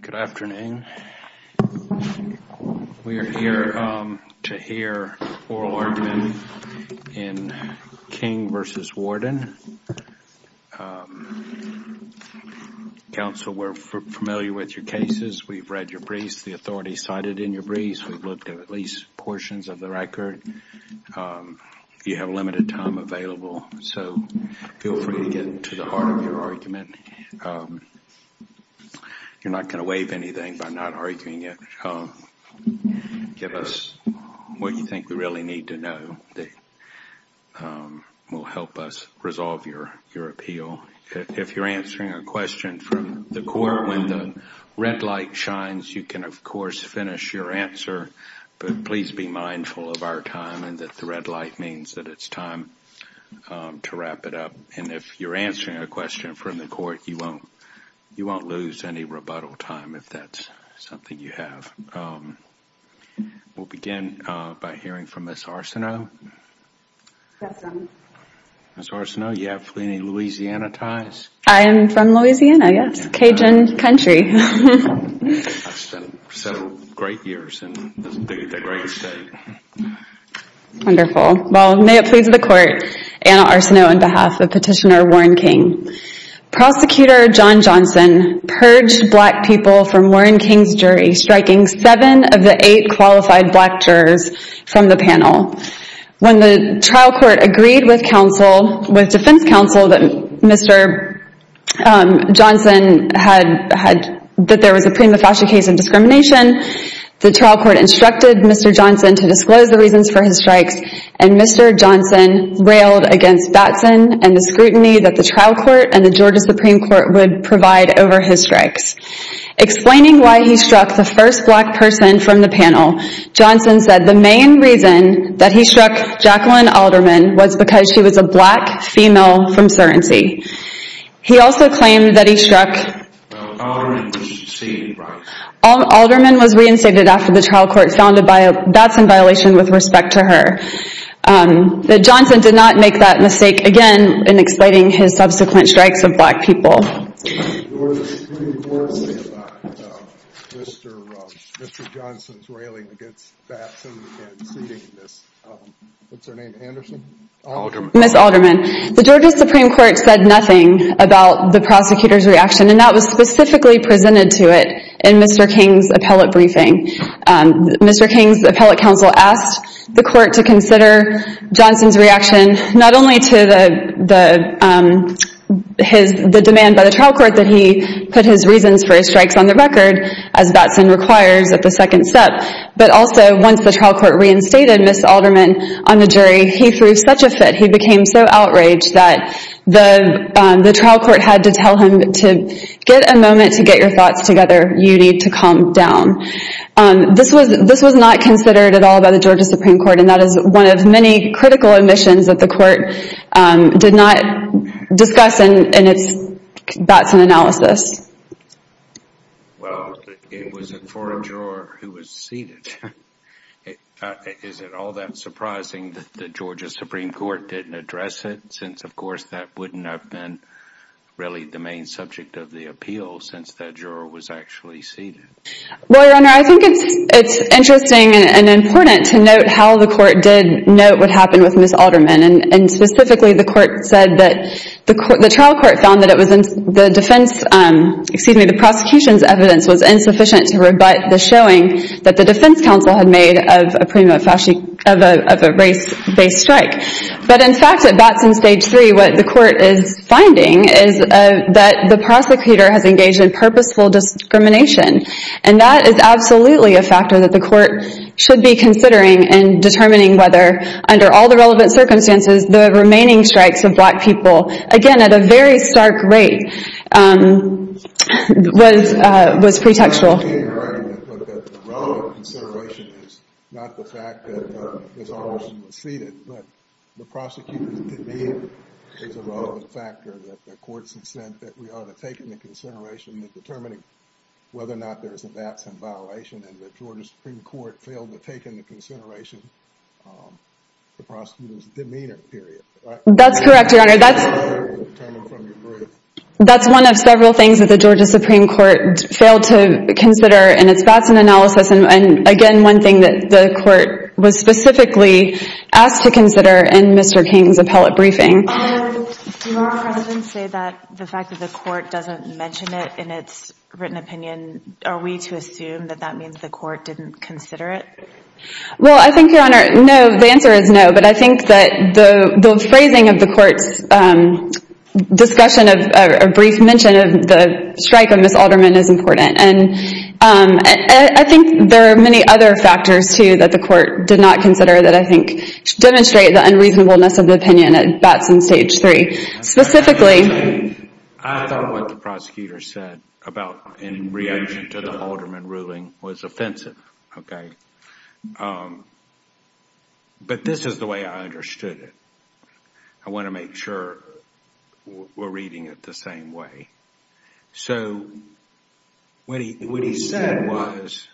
Good afternoon. We are here to hear oral argument in King v. Warden. Counsel, we're familiar with your cases. We've read your briefs. The authorities cited in your briefs. We've looked at least portions of the record. You have limited time available, so feel free to get to the heart of your argument. You're not going to waive anything by not arguing it. Give us what you think we really need to know that will help us resolve your appeal. If you're answering a question from the court when the red light shines, you can, of course, finish your answer. But please be mindful of our time and that the red light means that it's time to wrap it up. And if you're answering a question from the court, you won't lose any rebuttal time if that's something you have. We'll begin by hearing from Ms. Arsenault. Ms. Arsenault, do you have any Louisiana ties? I am from Louisiana, yes. Cajun country. I've spent several great years in the great state. Wonderful. Well, may it please the court, Anna Arsenault on behalf of Petitioner Warren King. Prosecutor John Johnson purged black people from Warren King's jury, striking seven of the eight qualified black jurors from the panel. When the trial court agreed with defense counsel that there was a prima facie case of discrimination, the trial court instructed Mr. Johnson to disclose the reasons for his strikes, and Mr. Johnson railed against Batson and the scrutiny that the trial court and the Georgia Supreme Court would provide over his strikes. Explaining why he struck the first black person from the panel, Johnson said the main reason that he struck Jacqueline Alderman was because she was a black female from certainty. He also claimed that he struck... Alderman was seen, right? Alderman was reinstated after the trial court found a Batson violation with respect to her. Johnson did not make that mistake again in explaining his subsequent strikes of black people. The Georgia Supreme Court said nothing about Mr. Johnson's railing against Batson and seating Miss... What's her name, Anderson? Alderman. Miss Alderman. The Georgia Supreme Court said nothing about the prosecutor's reaction, and that was specifically presented to it in Mr. King's appellate briefing. Mr. King's appellate counsel asked the court to consider Johnson's reaction, not only to the demand by the trial court that he put his reasons for his strikes on the record, as Batson requires at the second step, but also once the trial court reinstated Miss Alderman on the jury, he threw such a fit. He became so outraged that the trial court had to tell him to get a moment to get your thoughts together. You need to calm down. This was not considered at all by the Georgia Supreme Court, and that is one of many critical omissions that the court did not discuss in its Batson analysis. Well, it was for a juror who was seated. Is it all that surprising that the Georgia Supreme Court didn't address it, since, of course, that wouldn't have been really the main subject of the appeal since that juror was actually seated? Well, Your Honor, I think it's interesting and important to note how the court did note what happened with Miss Alderman, and specifically the trial court found that the prosecution's evidence was insufficient to rebut the showing that the defense counsel had made of a race-based strike. But in fact, at Batson Stage 3, what the court is finding is that the prosecutor has engaged in purposeful discrimination, and that is absolutely a factor that the court should be considering in determining whether, under all the relevant circumstances, the remaining strikes of black people, again, at a very stark rate, was pretextual. But the relevant consideration is not the fact that Miss Alderman was seated, but the prosecutor's demeanor is a relevant factor that the court's incentive that we ought to take into consideration in determining whether or not there is a Batson violation, and the Georgia Supreme Court failed to take into consideration the prosecutor's demeanor, period, right? That's correct, Your Honor. That's one of several things that the Georgia Supreme Court failed to consider in its Batson analysis, and again, one thing that the court was specifically asked to consider in Mr. King's appellate briefing. Do our precedents say that the fact that the court doesn't mention it in its written opinion, are we to assume that that means the court didn't consider it? Well, I think, Your Honor, no, the answer is no, but I think that the phrasing of the court's discussion of a brief mention of the strike of Miss Alderman is important, and I think there are many other factors, too, that the court did not consider that I think demonstrate the unreasonableness of the opinion at Batson Stage 3. I thought what the prosecutor said in reaction to the Alderman ruling was offensive, okay? But this is the way I understood it. I want to make sure we're reading it the same way. So what he said was,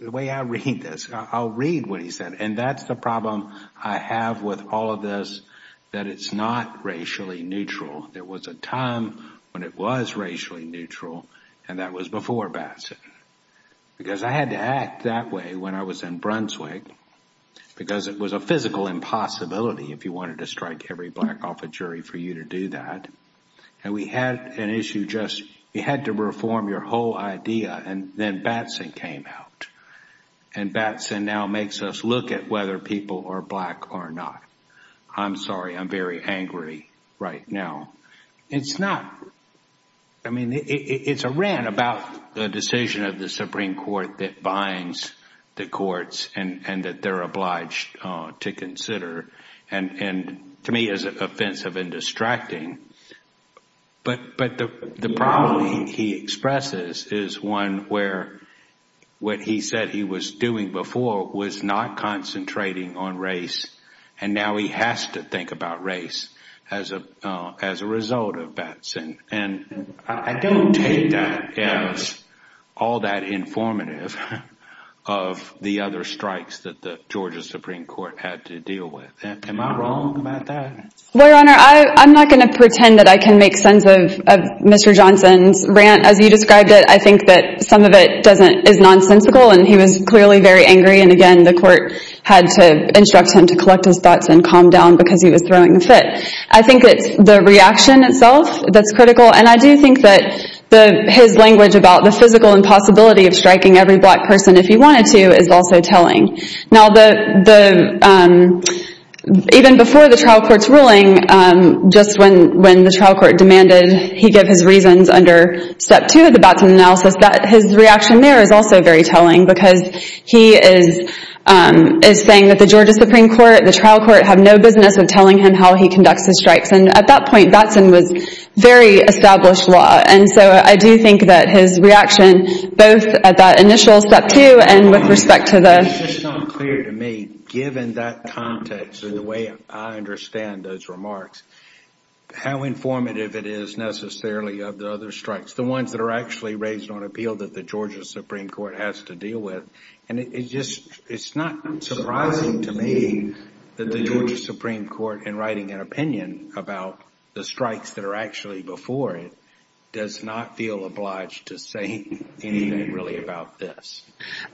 the way I read this, I'll read what he said, and that's the problem I have with all of this, that it's not racially neutral. There was a time when it was racially neutral, and that was before Batson, because I had to act that way when I was in Brunswick, because it was a physical impossibility if you wanted to strike every black off a jury for you to do that, and we had an issue just, you had to reform your whole idea, and then Batson came out, and Batson now makes us look at whether people are black or not. I'm sorry, I'm very angry right now. It's not, I mean, it's a rant about the decision of the Supreme Court that binds the courts and that they're obliged to consider, and to me is offensive and distracting, but the problem he expresses is one where what he said he was doing before was not concentrating on race, and now he has to think about race as a result of Batson, and I don't take that as all that informative of the other strikes that the Georgia Supreme Court had to deal with. Am I wrong about that? Well, Your Honor, I'm not going to pretend that I can make sense of Mr. Johnson's rant. As you described it, I think that some of it is nonsensical, and he was clearly very angry, and again, the court had to instruct him to collect his thoughts and calm down because he was throwing a fit. I think it's the reaction itself that's critical, and I do think that his language about the physical impossibility of striking every black person if he wanted to is also telling. Now, even before the trial court's ruling, just when the trial court demanded he give his reasons under Step 2 of the Batson analysis, his reaction there is also very telling because he is saying that the Georgia Supreme Court, the trial court, have no business with telling him how he conducts the strikes, and at that point, Batson was very established law, and so I do think that his reaction, both at that initial Step 2 and with respect to the... It's just unclear to me, given that context and the way I understand those remarks, how informative it is necessarily of the other strikes, the ones that are actually raised on appeal that the Georgia Supreme Court has to deal with, and it's not surprising to me that the Georgia Supreme Court, in writing an opinion about the strikes that are actually before it, does not feel obliged to say anything really about this.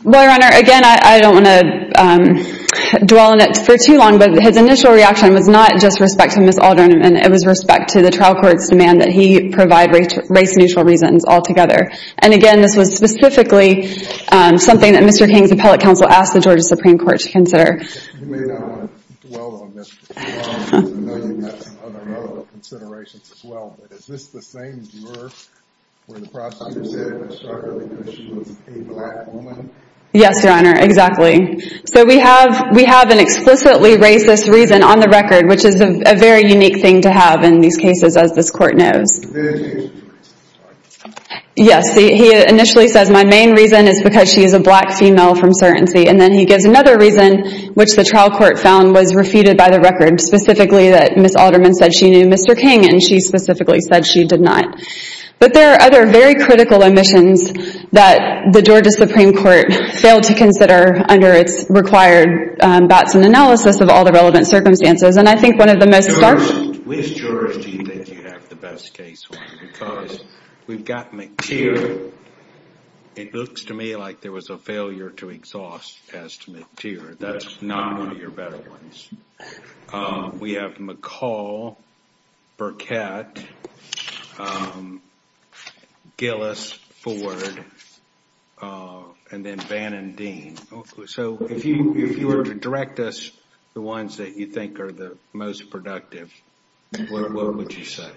Well, Your Honor, again, I don't want to dwell on it for too long, but his initial reaction was not just respect to Ms. Alderman, it was respect to the trial court's demand that he provide race-neutral reasons altogether, and again, this was specifically something that Mr. King's appellate counsel asked the Georgia Supreme Court to consider. You may not want to dwell on this for too long, because I know you've got some other relevant considerations as well, but is this the same juror where the prosecutor said Ms. Stark-Ellinger, she was a black woman? Yes, Your Honor, exactly. So we have an explicitly racist reason on the record, which is a very unique thing to have in these cases, as this court knows. Yes, he initially says my main reason is because she is a black female from certainty, and then he gives another reason, which the trial court found was refuted by the record, specifically that Ms. Alderman said she knew Mr. King, and she specifically said she did not. But there are other very critical omissions that the Georgia Supreme Court failed to consider under its required Batson analysis of all the relevant circumstances, and I think one of the most stark... Which jurors do you think you have the best case on? Because we've got McTeer. It looks to me like there was a failure to exhaust past McTeer. That's not one of your better ones. We have McCall, Burkett, Gillis, Ford, and then Bannon-Dean. So if you were to direct us the ones that you think are the most productive, what would you say?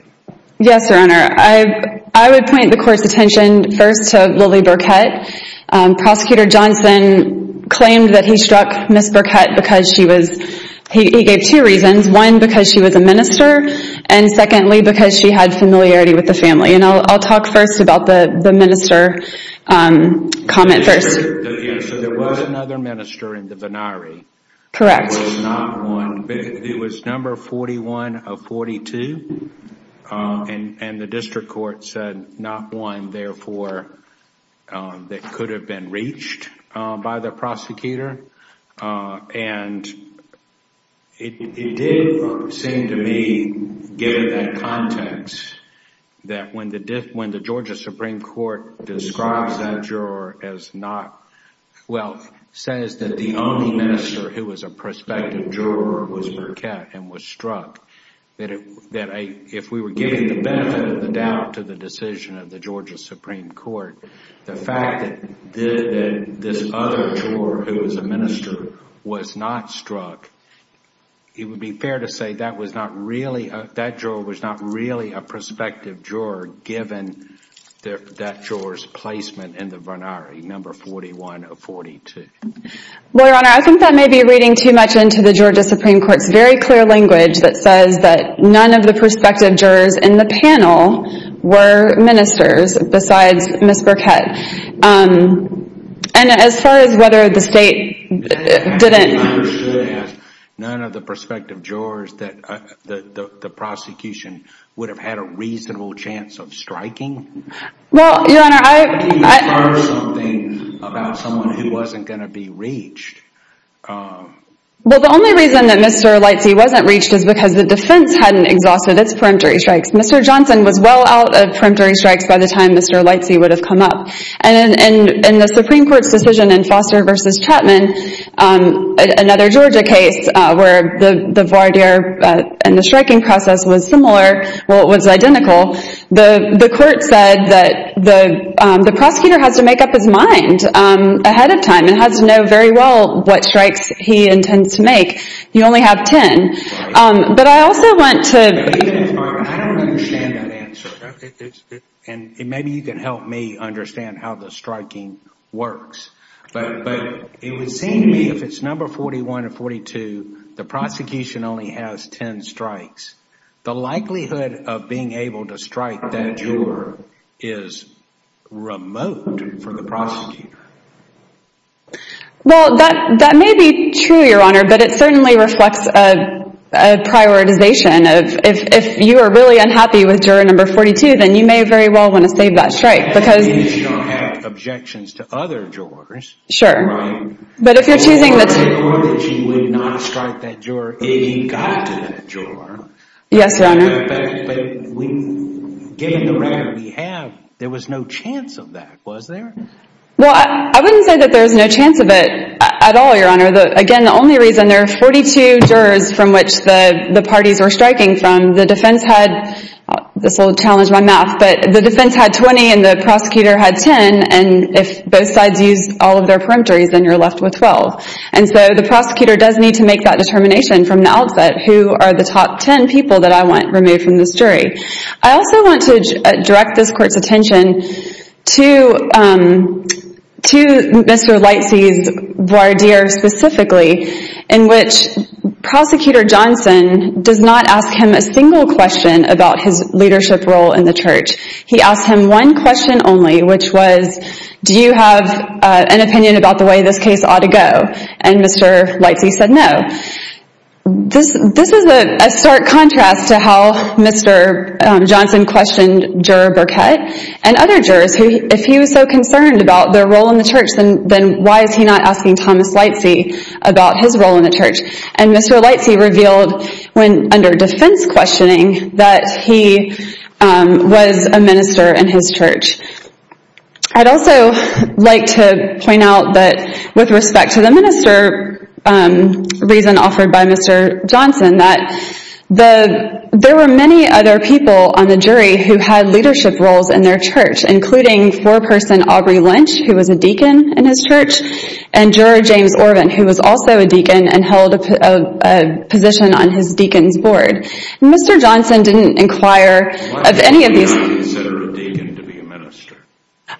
Yes, Your Honor. I would point the court's attention first to Lily Burkett. Prosecutor Johnson claimed that he struck Ms. Burkett because she was... He gave two reasons. One, because she was a minister, and secondly, because she had familiarity with the family. And I'll talk first about the minister comment first. So there was another minister in the venari. Correct. It was number 41 of 42, and the district court said not one, therefore, that could have been reached by the prosecutor. And it did seem to me, given that context, that when the Georgia Supreme Court describes that juror as not... Well, says that the only minister who was a prospective juror was Burkett and was struck, that if we were giving the benefit of the doubt to the decision of the Georgia Supreme Court, the fact that this other juror who was a minister was not struck, it would be fair to say that juror was not really a prospective juror, given that juror's placement in the venari, number 41 of 42. Well, Your Honor, I think that may be reading too much into the Georgia Supreme Court's very clear language that says that none of the prospective jurors in the panel were ministers besides Ms. Burkett. And as far as whether the state didn't... None of the prospective jurors that the prosecution would have had a reasonable chance of striking? Well, Your Honor, I... I think you inferred something about someone who wasn't going to be reached. Well, the only reason that Mr. Lightsey wasn't reached is because the defense hadn't exhausted its peremptory strikes. Mr. Johnson was well out of peremptory strikes by the time Mr. Lightsey would have come up. And in the Supreme Court's decision in Foster v. Chapman, another Georgia case, where the voir dire and the striking process was similar, well, it was identical, the court said that the prosecutor has to make up his mind ahead of time and has to know very well what strikes he intends to make. You only have 10. But I also want to... I don't understand that answer. And maybe you can help me understand how the striking works. But it would seem to me if it's number 41 or 42, the prosecution only has 10 strikes, the likelihood of being able to strike that juror is remote for the prosecutor. Well, that may be true, Your Honor, but it certainly reflects a prioritization. If you are really unhappy with juror number 42, then you may very well want to save that strike because... If she don't have objections to other jurors... Sure. Right. But if you're choosing... Or that she would not strike that juror if he got to that juror. Yes, Your Honor. But given the record we have, there was no chance of that, was there? Well, I wouldn't say that there was no chance of it at all, Your Honor. Again, the only reason, there are 42 jurors from which the parties were striking from. The defense had, this will challenge my math, but the defense had 20 and the prosecutor had 10. And if both sides used all of their peremptories, then you're left with 12. And so the prosecutor does need to make that determination from the outset, who are the top 10 people that I want removed from this jury. I also want to direct this court's attention to Mr. Lightsey's voir dire specifically, in which Prosecutor Johnson does not ask him a single question about his leadership role in the church. He asked him one question only, which was, do you have an opinion about the way this case ought to go? And Mr. Lightsey said no. This is a stark contrast to how Mr. Johnson questioned Juror Burkett and other jurors. If he was so concerned about their role in the church, then why is he not asking Thomas Lightsey about his role in the church? And Mr. Lightsey revealed, under defense questioning, that he was a minister in his church. I'd also like to point out that, with respect to the minister reason offered by Mr. Johnson, that there were many other people on the jury who had leadership roles in their church, including foreperson Aubrey Lynch, who was a deacon in his church, and Juror James Orvin, who was also a deacon and held a position on his deacon's board. Mr. Johnson didn't inquire of any of these. Why would he not consider a deacon to be a minister?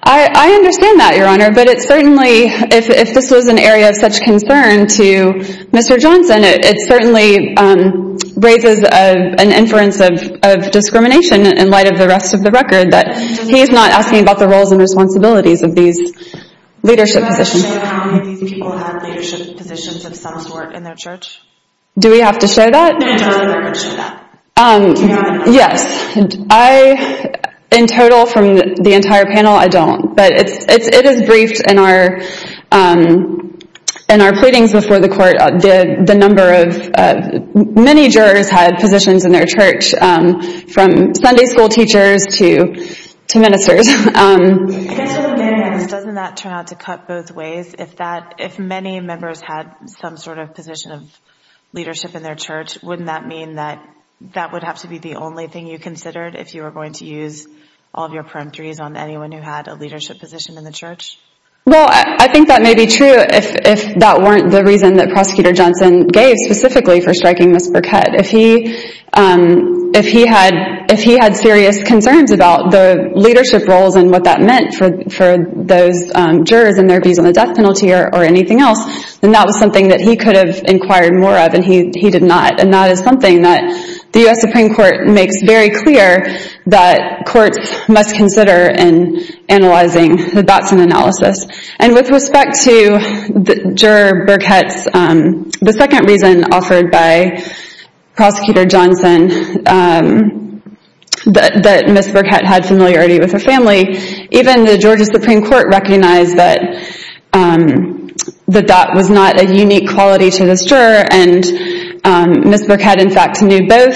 I understand that, Your Honor, but it certainly, if this was an area of such concern to Mr. Johnson, it certainly raises an inference of discrimination in light of the rest of the record, that he's not asking about the roles and responsibilities of these leadership positions. Do you have to show how many of these people had leadership positions of some sort in their church? Do we have to show that? No, you don't have to show that. Yes. In total, from the entire panel, I don't. But it is briefed in our pleadings before the court, the number of... from Sunday school teachers to ministers. Doesn't that turn out to cut both ways? If many members had some sort of position of leadership in their church, wouldn't that mean that that would have to be the only thing you considered if you were going to use all of your peremptories on anyone who had a leadership position in the church? Well, I think that may be true if that weren't the reason that Prosecutor Johnson gave specifically for striking Ms. Burkett. If he had serious concerns about the leadership roles and what that meant for those jurors and their views on the death penalty or anything else, then that was something that he could have inquired more of and he did not. And that is something that the U.S. Supreme Court makes very clear that courts must consider in analyzing the Batson analysis. And with respect to Juror Burkett, the second reason offered by Prosecutor Johnson that Ms. Burkett had familiarity with her family, even the Georgia Supreme Court recognized that that was not a unique quality to this juror and Ms. Burkett, in fact, knew both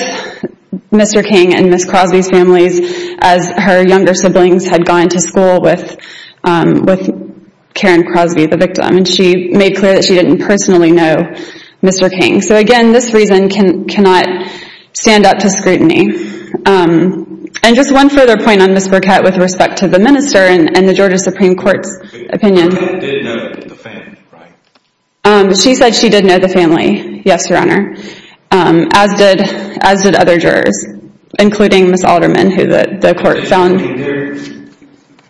Mr. King and Ms. Crosby's families as her younger siblings had gone to school with Karen Crosby, the victim. And she made clear that she didn't personally know Mr. King. So again, this reason cannot stand up to scrutiny. And just one further point on Ms. Burkett with respect to the minister and the Georgia Supreme Court's opinion. Ms. Burkett did know the family, right? She said she did know the family, yes, Your Honor. As did other jurors, including Ms. Alderman, who the court found.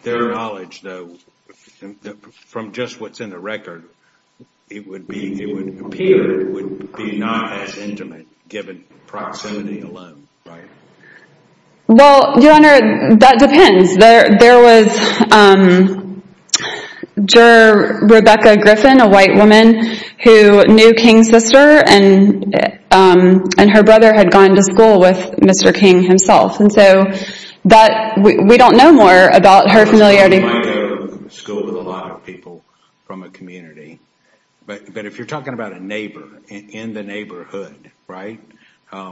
Their knowledge, though, from just what's in the record, it would appear it would be not as intimate, given proximity alone, right? Well, Your Honor, that depends. There was Juror Rebecca Griffin, a white woman, who knew King's sister and her brother had gone to school with Mr. King himself. And so we don't know more about her familiarity. She might go to school with a lot of people from a community. But if you're talking about a neighbor in the neighborhood, right,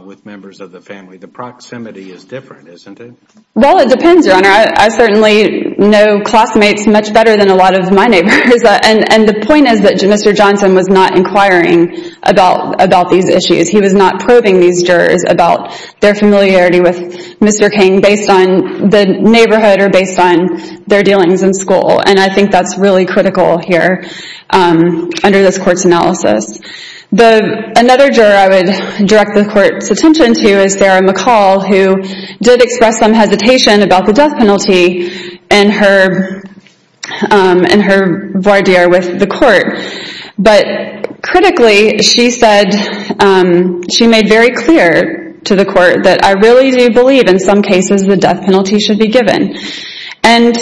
with members of the family, the proximity is different, isn't it? Well, it depends, Your Honor. I certainly know classmates much better than a lot of my neighbors. And the point is that Mr. Johnson was not inquiring about these issues. He was not probing these jurors about their familiarity with Mr. King based on the neighborhood or based on their dealings in school. And I think that's really critical here under this court's analysis. Another juror I would direct the court's attention to is Sarah McCall, who did express some hesitation about the death penalty in her voir dire with the court. But critically, she said she made very clear to the court that I really do believe in some cases the death penalty should be given. And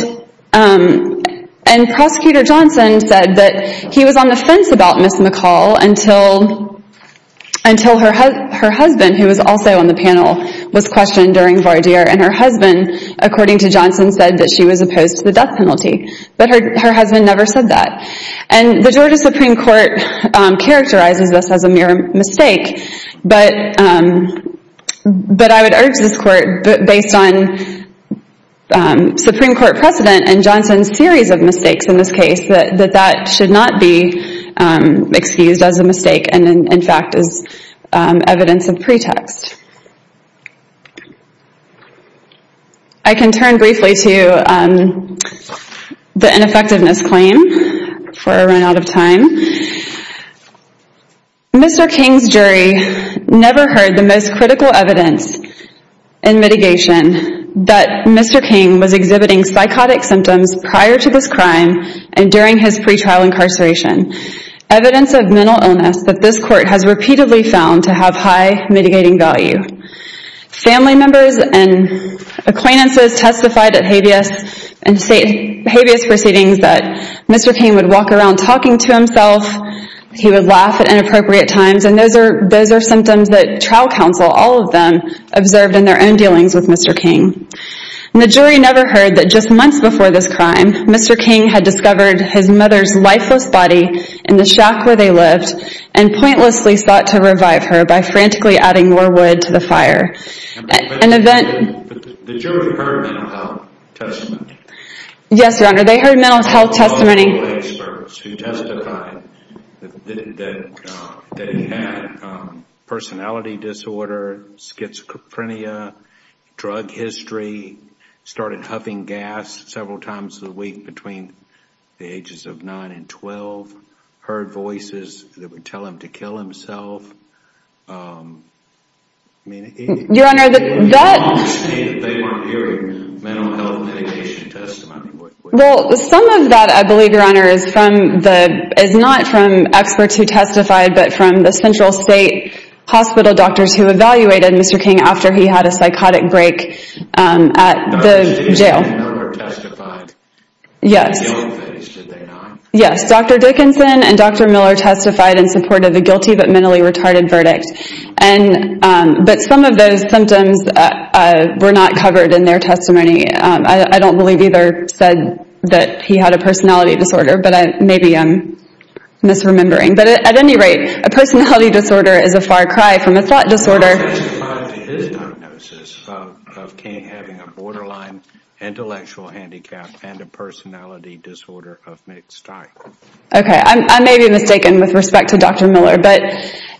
Prosecutor Johnson said that he was on the fence about Ms. McCall until her husband, who was also on the panel, was questioned during voir dire. And her husband, according to Johnson, said that she was opposed to the death penalty. But her husband never said that. And the Georgia Supreme Court characterizes this as a mere mistake. But I would urge this court, based on Supreme Court precedent and Johnson's series of mistakes in this case, that that should not be excused as a mistake and in fact as evidence of pretext. I can turn briefly to the ineffectiveness claim for a run out of time. Mr. King's jury never heard the most critical evidence in mitigation that Mr. King was exhibiting psychotic symptoms prior to this crime and during his pre-trial incarceration. Evidence of mental illness that this court has repeatedly found to have high mitigating value. Family members and acquaintances testified at habeas proceedings that Mr. King would walk around talking to himself. He would laugh at inappropriate times. And those are symptoms that trial counsel, all of them, observed in their own dealings with Mr. King. And the jury never heard that just months before this crime, Mr. King had discovered his mother's lifeless body in the shack where they lived and pointlessly sought to revive her by frantically adding more wood to the fire. The jury heard mental health testimony? Yes, Your Honor, they heard mental health testimony. All of the experts who testified that he had personality disorder, schizophrenia, drug history, started huffing gas several times a week between the ages of 9 and 12, heard voices that would tell him to kill himself. Your Honor, some of that I believe, Your Honor, is not from experts who testified, but from the central state hospital doctors who evaluated Mr. King after he had a psychotic break at the jail. Dr. Dickinson and Dr. Miller testified in support of the guilty but mentally retarded verdict, but some of those symptoms were not covered in their testimony. I don't believe either said that he had a personality disorder, but maybe I'm misremembering. But at any rate, a personality disorder is a far cry from a thought disorder. I testify to his diagnosis of King having a borderline intellectual handicap and a personality disorder of mixed type. Okay, I may be mistaken with respect to Dr. Miller, but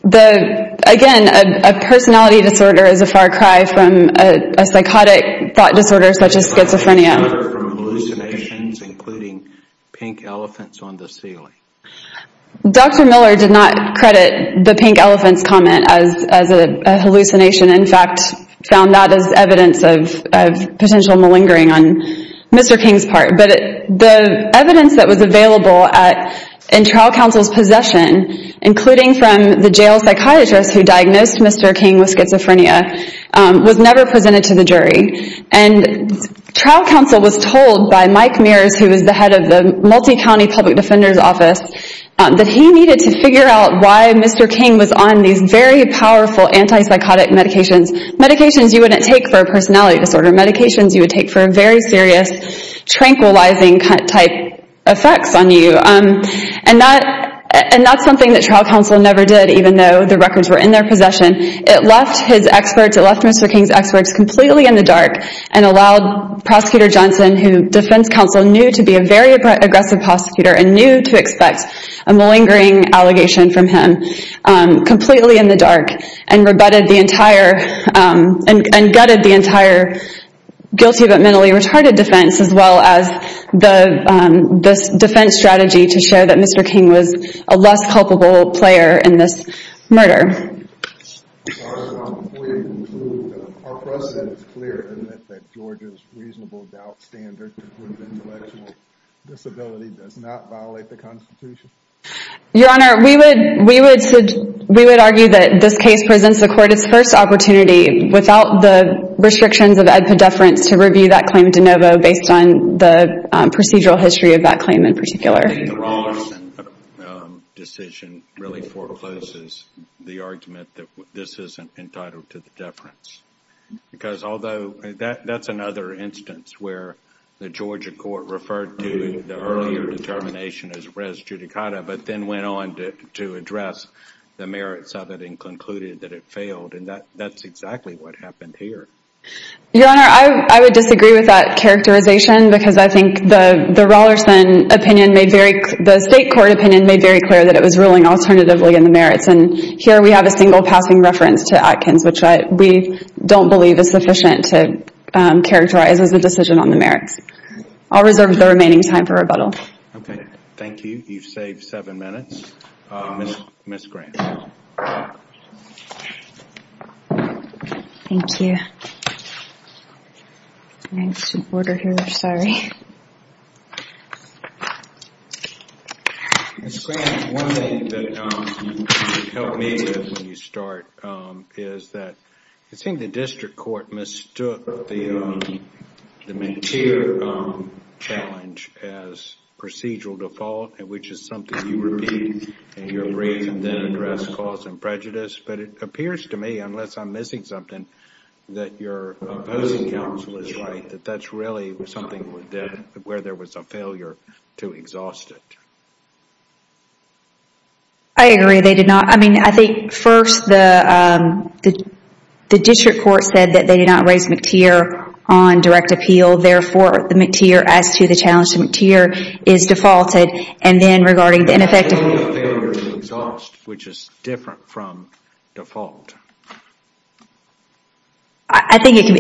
again, a personality disorder is a far cry from a psychotic thought disorder such as schizophrenia. A far cry from hallucinations including pink elephants on the ceiling. Dr. Miller did not credit the pink elephants comment as a hallucination. In fact, found that as evidence of potential malingering on Mr. King's part. But the evidence that was available in trial counsel's possession, including from the jail psychiatrist who diagnosed Mr. King with schizophrenia, was never presented to the jury. Trial counsel was told by Mike Mears, who was the head of the Multicounty Public Defender's Office, that he needed to figure out why Mr. King was on these very powerful antipsychotic medications. Medications you wouldn't take for a personality disorder. Medications you would take for very serious tranquilizing type effects on you. And that's something that trial counsel never did, even though the records were in their possession. It left his experts, it left Mr. King's experts completely in the dark and allowed Prosecutor Johnson, who defense counsel knew to be a very aggressive prosecutor and knew to expect a malingering allegation from him, completely in the dark and gutted the entire guilty but mentally retarded defense as well as this defense strategy to show that Mr. King was a less culpable player in this murder. Your Honor, before you conclude, are precedents clear that Georgia's reasonable doubt standard to prove intellectual disability does not violate the Constitution? Your Honor, we would argue that this case presents the court its first opportunity without the restrictions of ed pediferance to review that claim de novo based on the procedural history of that claim in particular. I think the Rollerson decision really forecloses the argument that this isn't entitled to the deference. Because although that's another instance where the Georgia court referred to the earlier determination as res judicata but then went on to address the merits of it and concluded that it failed and that's exactly what happened here. Your Honor, I would disagree with that characterization because I think the Rollerson opinion, the state court opinion, made very clear that it was ruling alternatively in the merits and here we have a single passing reference to Atkins which we don't believe is sufficient to characterize as a decision on the merits. I'll reserve the remaining time for rebuttal. Okay, thank you. You've saved seven minutes. Ms. Grant. Thank you. I need some water here, sorry. Ms. Grant, one thing that you helped me with when you start is that I think the district court mistook the McTeer challenge as procedural default which is something you repeat in your brief and then address cause and prejudice but it appears to me, unless I'm missing something, that your opposing counsel is right that that's really something where there was a failure to exhaust it. I agree, they did not. I mean, I think first the district court said that they did not raise McTeer on direct appeal therefore the McTeer as to the challenge to McTeer is defaulted There's only a failure to exhaust which is different from default. I think it's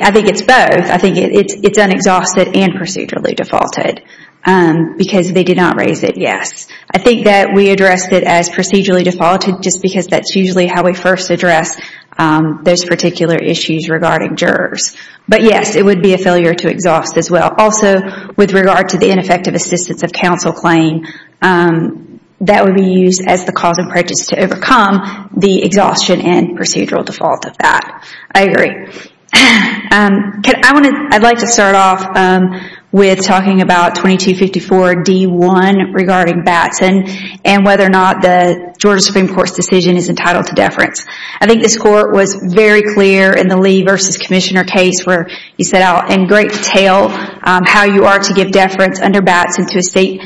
both. I think it's unexhausted and procedurally defaulted because they did not raise it, yes. I think that we addressed it as procedurally defaulted just because that's usually how we first address those particular issues regarding jurors. But yes, it would be a failure to exhaust as well. Also, with regard to the ineffective assistance of counsel claim that would be used as the cause and prejudice to overcome the exhaustion and procedural default of that. I agree. I'd like to start off with talking about 2254 D1 regarding Batson and whether or not the Georgia Supreme Court's decision is entitled to deference. I think this court was very clear in the Lee v. Commissioner case where he said in great detail how you are to give deference under Batson to a state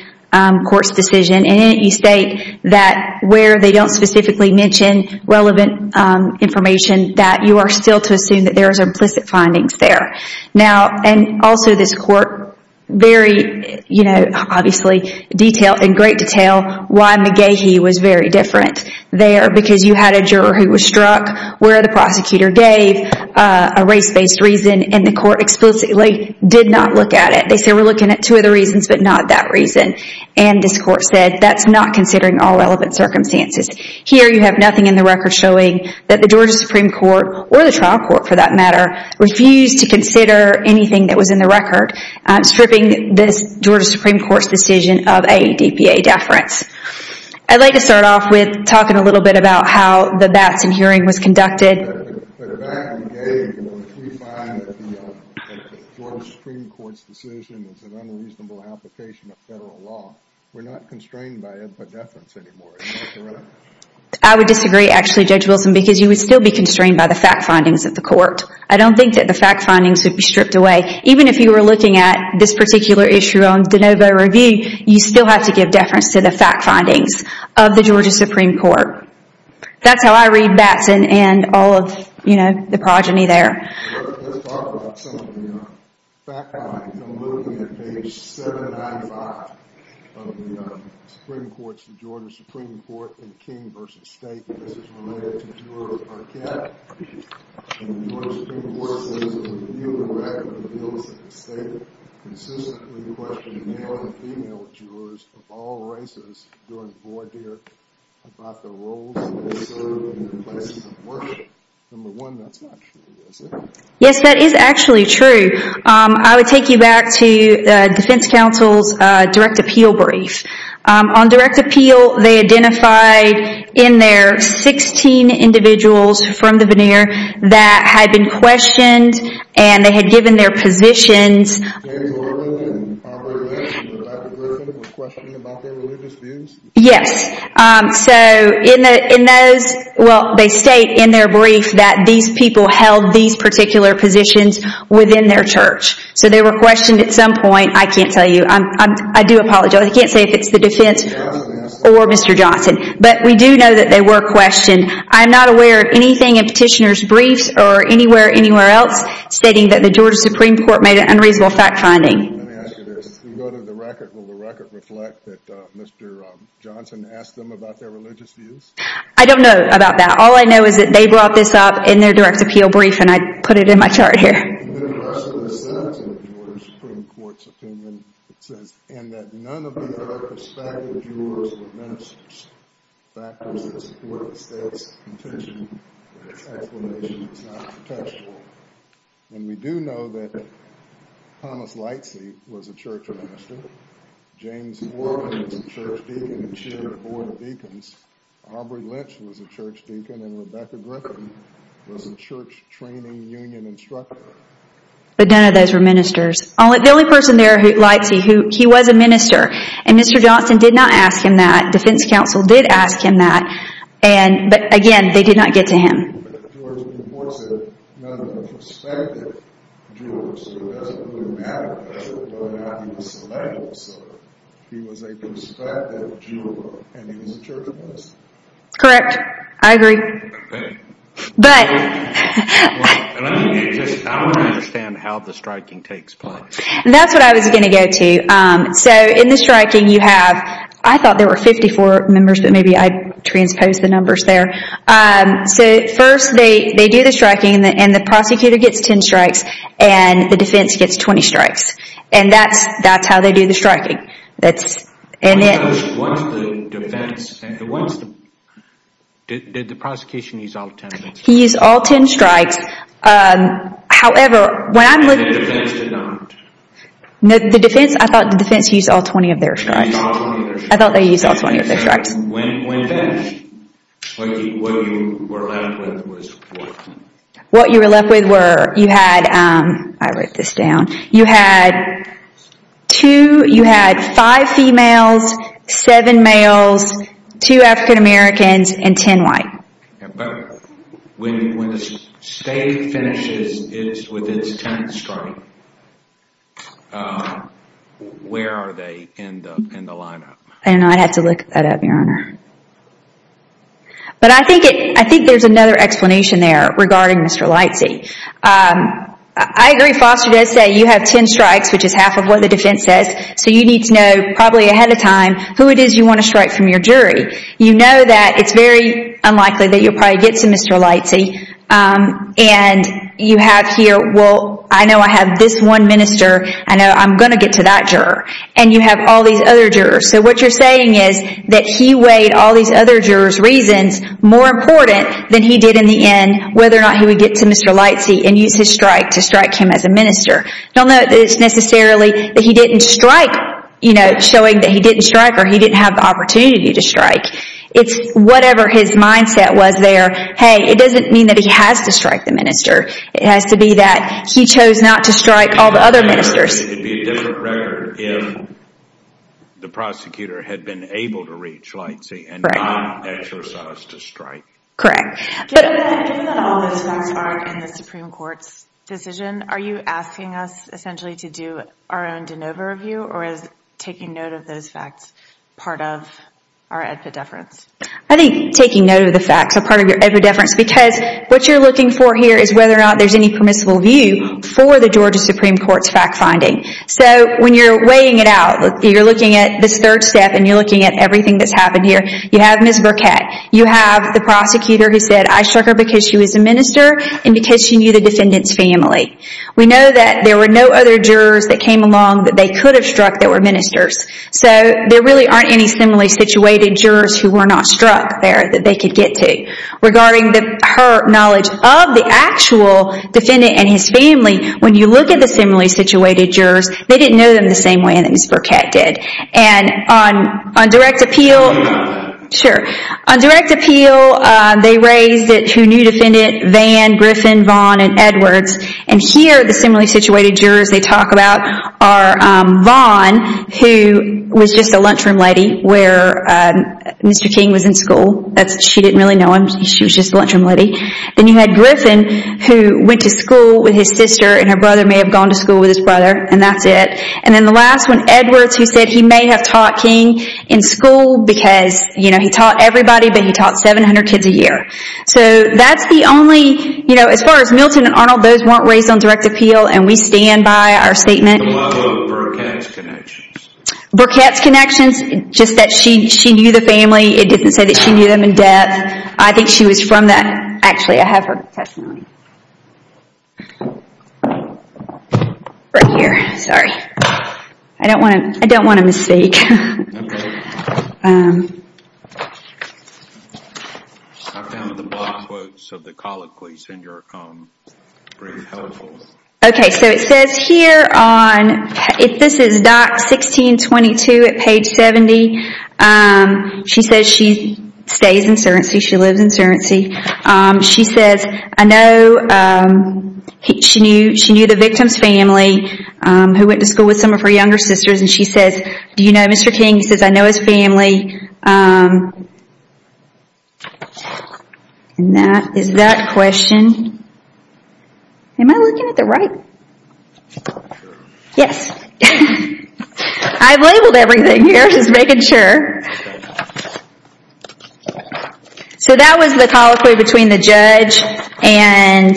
court's decision and in it you state that where they don't specifically mention relevant information that you are still to assume that there are implicit findings there. Now, and also this court very, you know, obviously detailed in great detail why McGehee was very different there because you had a juror who was struck where the prosecutor gave a race-based reason and the court explicitly did not look at it. They said we're looking at two other reasons but not that reason. And this court said that's not considering all relevant circumstances. Here you have nothing in the record showing that the Georgia Supreme Court or the trial court for that matter refused to consider anything that was in the record stripping this Georgia Supreme Court's decision of a DPA deference. I'd like to start off with talking a little bit about how the Batson hearing was conducted. I would disagree actually, Judge Wilson, because you would still be constrained by the fact findings of the court. I don't think that the fact findings would be stripped away. Even if you were looking at this particular issue on DeNovo Review you still have to give deference to the fact findings of the Georgia Supreme Court. That's how I read Batson and all of, you know, the progeny there. ...of all races during the war, Derek, about the roles they served in places of worship. Number one, that's not true, is it? Yes, that is actually true. I would take you back to the defense counsel's direct appeal brief. On direct appeal, they identified in there 16 individuals from the veneer that had been questioned and they had given their positions. James Orland and Robert Lynch were questioned about their religious views? Yes. So in those, well, they state in their brief that these people held these particular positions within their church. So they were questioned at some point. I can't tell you. I do apologize. I can't say if it's the defense or Mr. Johnson. But we do know that they were questioned. I'm not aware of anything in petitioner's briefs or anywhere else stating that the Georgia Supreme Court made an unreasonable fact finding. Let me ask you this. If we go to the record, will the record reflect that Mr. Johnson asked them about their religious views? I don't know about that. All I know is that they brought this up in their direct appeal brief and I put it in my chart here. And then the rest of the sentence in the Georgia Supreme Court's opinion says, and that none of the other prospective jurors were ministers. Factors that support the state's contention that its explanation is not contextual. And we do know that Thomas Lightsey was a church minister. James Orland was a church deacon and chaired a board of deacons. Aubrey Lynch was a church deacon and Rebecca Griffin was a church training union instructor. But none of those were ministers. The only person there, Lightsey, he was a minister. And Mr. Johnson did not ask him that. Defense counsel did ask him that. But again, they did not get to him. The Georgia Supreme Court said none of the prospective jurors. So it doesn't really matter whether or not he was a evangelist. He was a prospective juror. And he was a church minister. Correct. I agree. I don't understand how the striking takes place. That's what I was going to go to. So in the striking you have, I thought there were 54 members but maybe I transposed the numbers there. So first they do the striking and the prosecutor gets 10 strikes. And the defense gets 20 strikes. And that's how they do the striking. Did the prosecution use all 10 of them? He used all 10 strikes. The defense, I thought the defense used all 20 of their strikes. I thought they used all 20 of their strikes. When finished, what you were left with was what? What you were left with were, you had, I wrote this down. You had 2, you had 5 females, 7 males, 2 African Americans, and 10 white. But when the state finishes with its 10th strike, where are they in the lineup? I don't know, I'd have to look that up your honor. But I think there's another explanation there regarding Mr. Lightsey. I agree Foster does say you have 10 strikes, which is half of what the defense says. So you need to know probably ahead of time who it is you want to strike from your jury. You know that it's very unlikely that you'll probably get to Mr. Lightsey. And you have here, well I know I have this one minister. I know I'm going to get to that juror. And you have all these other jurors. So what you're saying is that he weighed all these other jurors' reasons more important than he did in the end whether or not he would get to Mr. Lightsey and use his strike to strike him as a minister. Don't know that it's necessarily that he didn't strike, you know, showing that he didn't strike or he didn't have the opportunity to strike. It's whatever his mindset was there, hey it doesn't mean that he has to strike the minister. It has to be that he chose not to strike all the other ministers. It would be a different record if the prosecutor had been able to reach Lightsey and not exercise to strike. Correct. Given that all those facts are in the Supreme Court's decision, are you asking us essentially to do our own de novo review or is taking note of those facts part of our epidefference? I think taking note of the facts are part of your epidefference because what you're looking for here is whether or not there's any permissible view for the Georgia Supreme Court's fact finding. So when you're weighing it out, you're looking at this third step and you're looking at everything that's happened here. You have Ms. Burkett, you have the prosecutor who said I struck her because she was a minister and because she knew the defendant's family. We know that there were no other jurors that came along that they could have struck that were ministers. So there really aren't any similarly situated jurors who were not struck there that they could get to. Regarding her knowledge of the actual defendant and his family, when you look at the similarly situated jurors, they didn't know them the same way that Ms. Burkett did. And on direct appeal, they raised it who knew defendant Van, Griffin, Vaughn, and Edwards. And here the similarly situated jurors they talk about are Vaughn who was just a lunchroom lady where Mr. King was in school. She didn't really know him. She was just a lunchroom lady. Then you had Griffin who went to school with his sister and her brother may have gone to school with his brother. And that's it. And then the last one, Edwards who said he may have taught King in school because he taught everybody but he taught 700 kids a year. So that's the only, as far as Milton and Arnold, those weren't raised on direct appeal and we stand by our statement. What about Burkett's connections? Burkett's connections, just that she knew the family. It doesn't say that she knew them in depth. I think she was from that, actually I have her testimony. Right here, sorry. I don't want to misspeak. Okay, so it says here on, this is doc 1622 at page 70. She says she stays in Serence. She lives in Serence. She says I know, she knew the victim's family who went to school with some of her younger sisters. And she says, do you know Mr. King? He says I know his family. And that is that question. Am I looking at the right? Yes. I've labeled everything here just making sure. So that was the colloquy between the judge and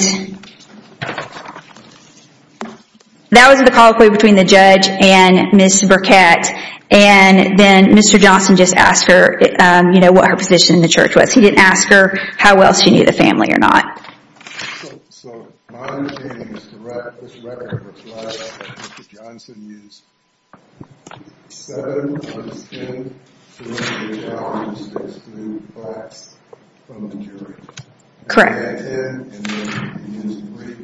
That was the colloquy between the judge and Ms. Burkett. And then Mr. Johnson just asked her what her position in the church was. He didn't ask her how well she knew the family or not. So, my opinion is this record looks a lot like what Mr. Johnson used. Seven of his ten serenity challenges exclude blacks from the jury. Correct. And he had ten and then he used three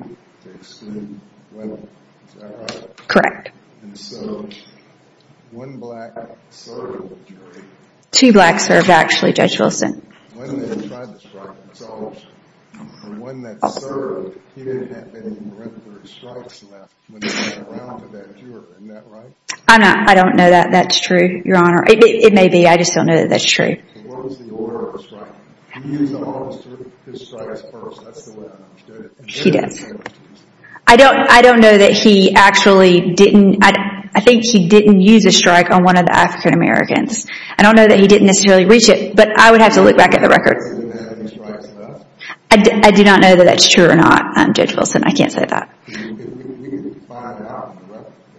to exclude women. Is that right? Correct. And so, one black served in the jury. Two blacks served actually, Judge Wilson. One that tried to strike himself. The one that served, he didn't have any record of strikes left when he went around to that juror. Isn't that right? I don't know that. That's true, Your Honor. It may be. I just don't know that that's true. What was the order of the strike? He used all of his strikes first. That's the way I understood it. He does. I don't know that he actually didn't. I think he didn't use a strike on one of the African Americans. I don't know that he didn't necessarily reach it, but I would have to look back at the record. I do not know that that's true or not, Judge Wilson. I can't say that.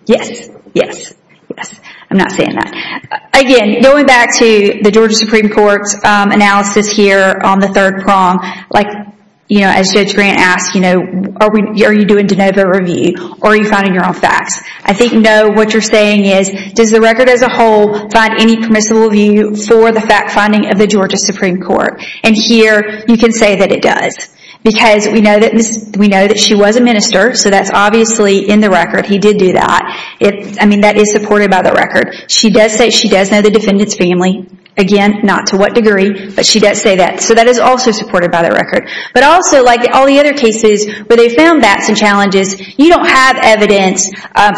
Yes. Yes. Yes. I'm not saying that. Again, going back to the Georgia Supreme Court's analysis here on the third prong, like, you know, as Judge Grant asked, you know, are you doing de novo review or are you finding your own facts? I think, no, what you're saying is, does the record as a whole find any permissible review for the fact finding of the Georgia Supreme Court? And here, you can say that it does. Because we know that she was a minister, so that's obviously in the record. He did do that. I mean, that is supported by the record. She does say she does know the defendant's family. Again, not to what degree, but she does say that. So that is also supported by the record. But also, like all the other cases where they found facts and challenges, you don't have evidence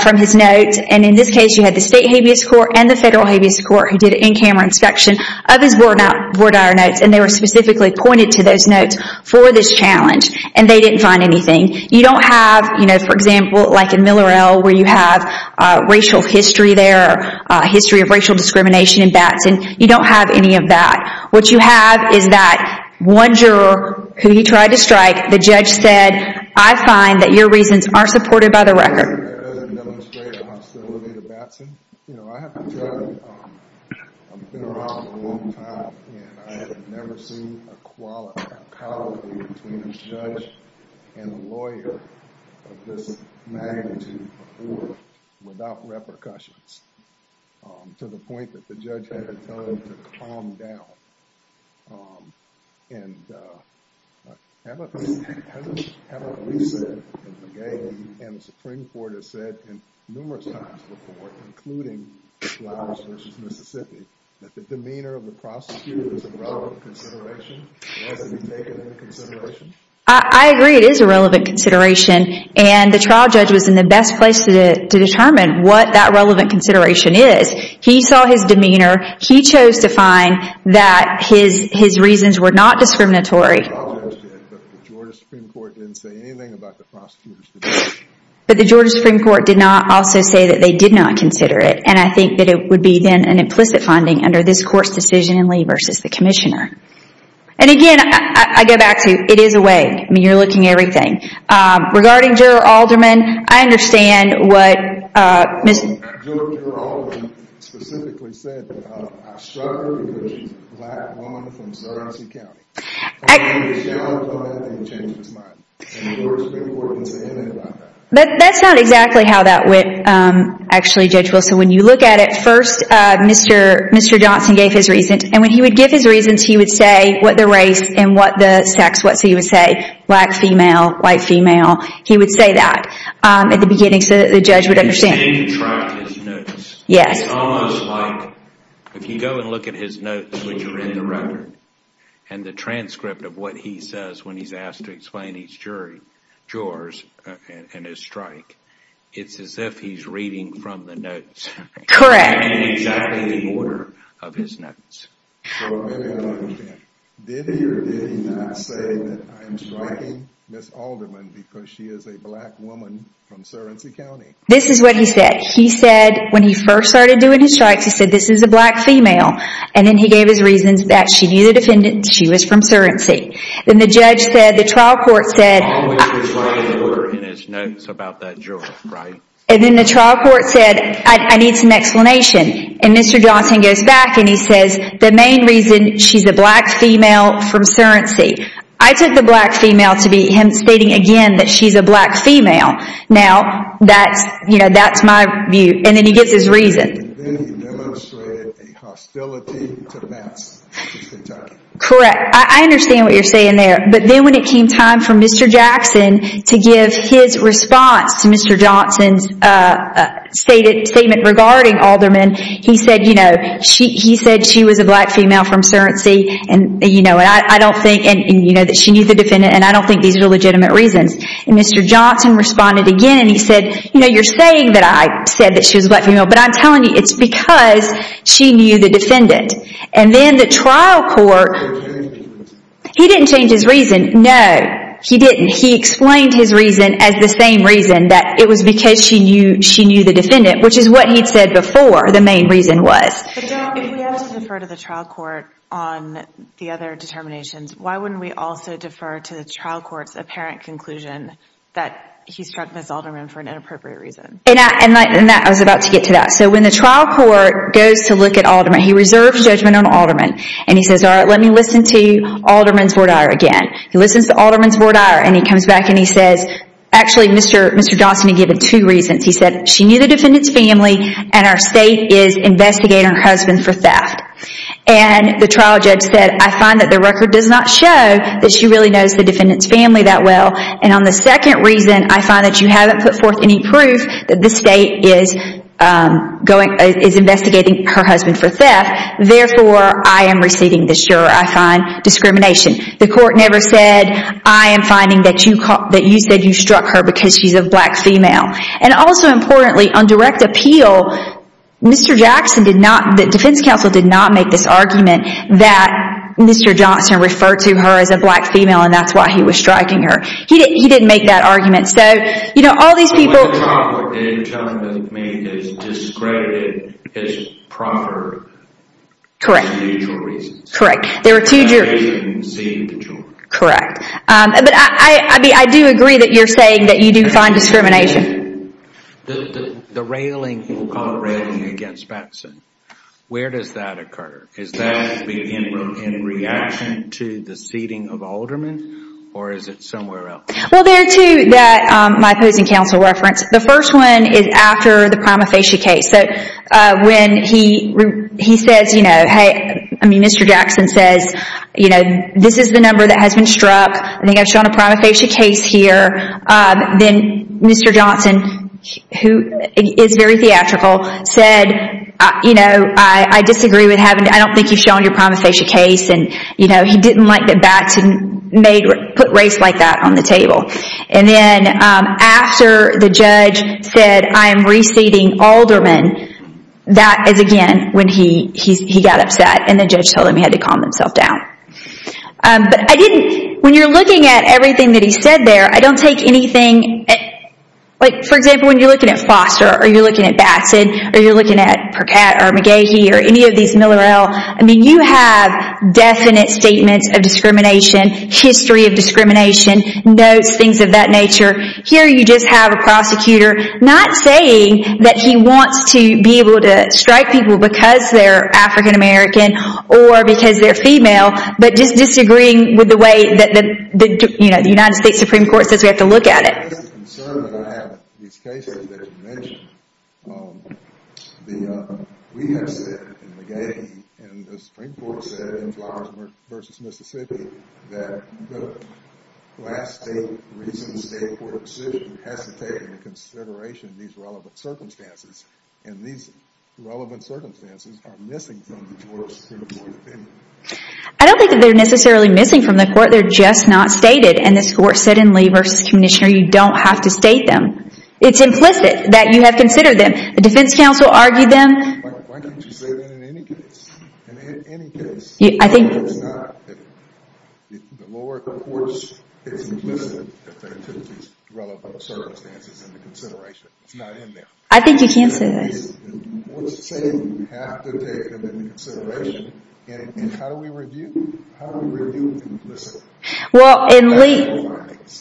from his notes. And in this case, you had the State Habeas Court and the Federal Habeas Court who did an in-camera inspection of his voir dire notes, and they were specifically pointed to those notes for this challenge. And they didn't find anything. You don't have, you know, for example, like in Millerell, where you have racial history there, history of racial discrimination in Batson, you don't have any of that. What you have is that one juror who he tried to strike, the judge said, I find that your reasons aren't supported by the record. That doesn't demonstrate a hostility to Batson. You know, I have to tell you, I've been around a long time, and I have never seen a quality between a judge and a lawyer of this magnitude before, without repercussions, to the point that the judge had to tell him to calm down. And haven't we said, and the Supreme Court has said numerous times before, including Flowers v. Mississippi, that the demeanor of the prosecutor is a relevant consideration? Has it been taken into consideration? I agree it is a relevant consideration. And the trial judge was in the best place to determine what that relevant consideration is. He saw his demeanor. He chose to find that his reasons were not discriminatory. The trial judge did, but the Georgia Supreme Court didn't say anything about the prosecutor's demeanor. But the Georgia Supreme Court did not also say that they did not consider it. And I think that it would be then an implicit finding under this Court's decision in Lee v. the Commissioner. And again, I go back to, it is a way. I mean, you're looking at everything. Regarding Juror Alderman, I understand what Ms. Juror Alderman specifically said that I shudder because she's a black woman from Sarasota County. I don't understand how he changed his mind. And the Georgia Supreme Court didn't say anything about that. That's not exactly how that went, actually, Judge Wilson. When you look at it, first, Mr. Johnson gave his reasons. And when he would give his reasons, he would say what the race and what the sex was. He would say black female, white female. He would say that at the beginning so that the judge would understand. He didn't track his notes. Yes. It's almost like, if you go and look at his notes, which are in the record, and the transcript of what he says when he's asked to explain each jurors and his strike, it's as if he's reading from the notes. Correct. In exactly the order of his notes. Did he or did he not say that I'm striking Ms. Alderman because she is a black woman from Surrency County? This is what he said. He said, when he first started doing his strikes, he said, this is a black female. And then he gave his reasons that she knew the defendant, she was from Surrency. Then the judge said, the trial court said, And then the trial court said, I need some explanation. And Mr. Johnson goes back and he says, the main reason, she's a black female from Surrency. I took the black female to be him stating again that she's a black female. Now, that's my view. And then he gives his reason. And then he demonstrated a hostility to Mets. Correct. I understand what you're saying there. But then when it came time for Mr. Jackson to give his response to Mr. Johnson's statement regarding Alderman, he said she was a black female from Surrency and that she knew the defendant and I don't think these are legitimate reasons. And Mr. Johnson responded again and he said, you're saying that I said that she was a black female, but I'm telling you it's because she knew the defendant. And then the trial court, he didn't change his reason. No, he didn't. He explained his reason as the same reason that it was because she knew the defendant, which is what he'd said before the main reason was. If we have to defer to the trial court on the other determinations, why wouldn't we also defer to the trial court's apparent conclusion that he struck Ms. Alderman for an inappropriate reason? And I was about to get to that. So when the trial court goes to look at Alderman, he reserves judgment on Alderman. And he says, all right, let me listen to Alderman's voir dire again. He listens to Alderman's voir dire and he comes back and he says, actually, Mr. Johnson had given two reasons. He said she knew the defendant's family and our state is investigating her husband for theft. And the trial judge said, I find that the record does not show that she really knows the defendant's family that well. And on the second reason, I find that you haven't put forth any proof that the state is investigating her husband for theft. Therefore, I am receiving the sure, I find, discrimination. The court never said, I am finding that you said you struck her because she's a black female. And also importantly, on direct appeal, Mr. Jackson did not, the defense counsel did not make this argument that Mr. Johnson referred to her as a black female and that's why he was striking her. He didn't make that argument. So, you know, all these people... What you're telling me is discredited as proffered. Correct. For two mutual reasons. Correct. There were two jurors. And they didn't see the juror. Correct. But I do agree that you're saying that you do find discrimination. The railing, we'll call it railing against Batson. Where does that occur? Is that in reaction to the seating of aldermen? Or is it somewhere else? Well, there are two that my opposing counsel referenced. The first one is after the prima facie case. So, when he says, you know, hey, I mean, Mr. Jackson says, you know, this is the number that has been struck. I think I've shown a prima facie case here. Then Mr. Johnson, who is very theatrical, said, you know, I disagree with having... I don't think you've shown your prima facie case. And, you know, he didn't like that Batson put race like that on the table. And then after the judge said, I am reseating aldermen, that is again when he got upset. And the judge told him he had to calm himself down. But I didn't... When you're looking at everything that he said there, I don't take anything... Like, for example, when you're looking at Foster, or you're looking at Batson, or you're looking at Percat, or McGahee, or any of these Miller-El, I mean, you have definite statements of discrimination, history of discrimination, notes, things of that nature. Here you just have a prosecutor not saying that he wants to be able to strike people because they're African-American or because they're female, but just disagreeing with the way that the United States Supreme Court says we have to look at it. That's the concern that I have with these cases that you mentioned. We have said, and McGahee, and the Supreme Court said in Flowers v. Mississippi, that the last state, recent state court decision has to take into consideration these relevant circumstances, and these relevant circumstances are missing from the court opinion. I don't think that they're necessarily missing from the court. They're just not stated, and this court said in Lee v. Kunishner, you don't have to state them. It's implicit that you have considered them. The defense counsel argued them. Why can't you say that in any case? I think you can say that. I think you can say that. Well, in Lee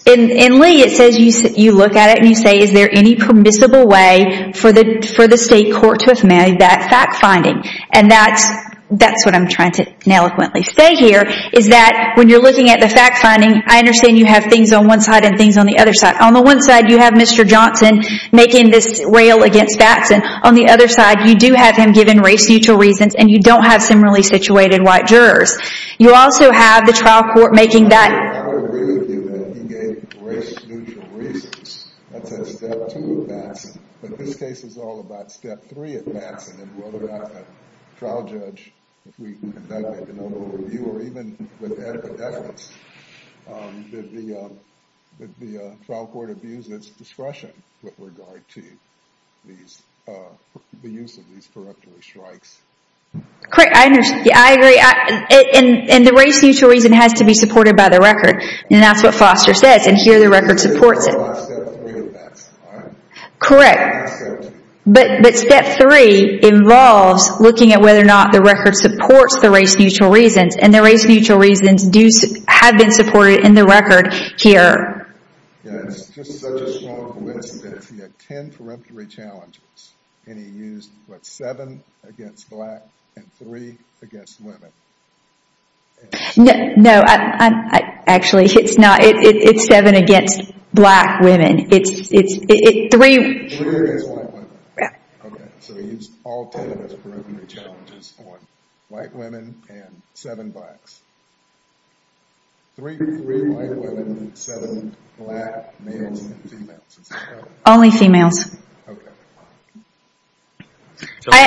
it says you look at it and you say, is there any permissible way for the state court to have made that fact-finding? And that's what I'm trying to ineloquently say here, is that when you're looking at the fact-finding, I understand you have things on one side and things on the other side. On the one side, you have Mr. Johnson making this rail against Batson. On the other side, you do have him giving race-neutral reasons, and you don't have similarly situated white jurors. You also have the trial court making that. I don't really think that he gave race-neutral reasons. That's at step two of Batson. But this case is all about step three at Batson, and whether or not the trial judge, if we conduct an overview, or even with evidence, that the trial court abuses discretion with regard to the use of these correctory strikes. I agree. And the race-neutral reason has to be supported by the record, and that's what Foster says, and here the record supports it. This is all about step three at Batson, right? Correct. But step three involves looking at whether or not the record supports the race-neutral reasons, and the race-neutral reasons have been supported in the record here. It's just such a strong point that he had ten preemptory challenges, and he used, what, seven against black and three against women. No, actually, it's not. It's seven against black women. Three against white women. Okay, so he used all ten of his preemptory challenges on white women and seven blacks. Three white women and seven black males and females. Only females. Okay.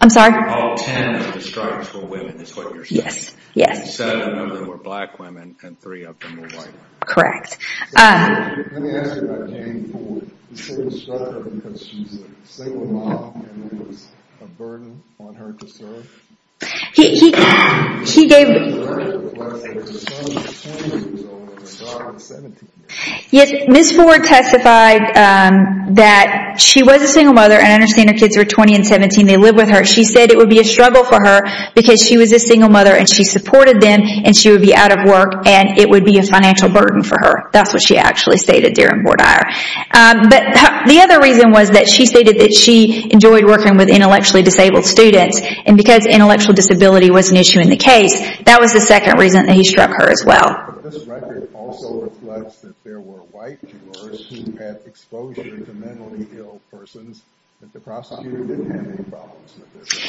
I'm sorry? All ten of the strikes were women, is what you're saying. Yes, yes. Seven of them were black women, and three of them were white women. Correct. Let me ask you about Janie Ford. Is she a struggler because she's a single mom and there was a burden on her to serve? Yes, Ms. Ford testified that she was a single mother, and I understand her kids are 20 and 17. They live with her. She said it would be a struggle for her because she was a single mother, and she supported them, and she would be out of work, and it would be a financial burden for her. That's what she actually stated during Bordier. But the other reason was that she stated that she enjoyed working with intellectually disabled students, and because intellectual disability was an issue in the case, that was the second reason that he struck her as well. This record also reflects that there were white jurors who had exposure to mentally ill persons, but the prosecutor didn't have any problems with this.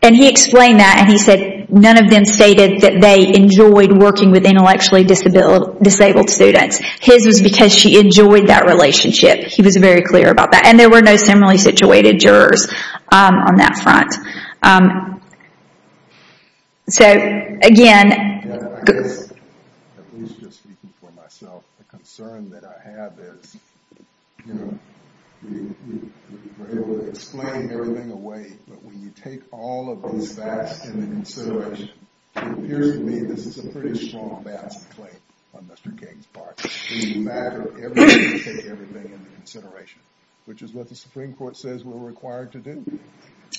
And he explained that, and he said none of them stated that they enjoyed working with intellectually disabled students. His was because she enjoyed that relationship. He was very clear about that, and there were no similarly situated jurors on that front. So, again... At least just speaking for myself, the concern that I have is, you know, we're able to explain everything away, but when you take all of these facts into consideration, it appears to me this is a pretty strong balance to claim on Mr. King's part. When you matter everything, you take everything into consideration, which is what the Supreme Court says we're required to do.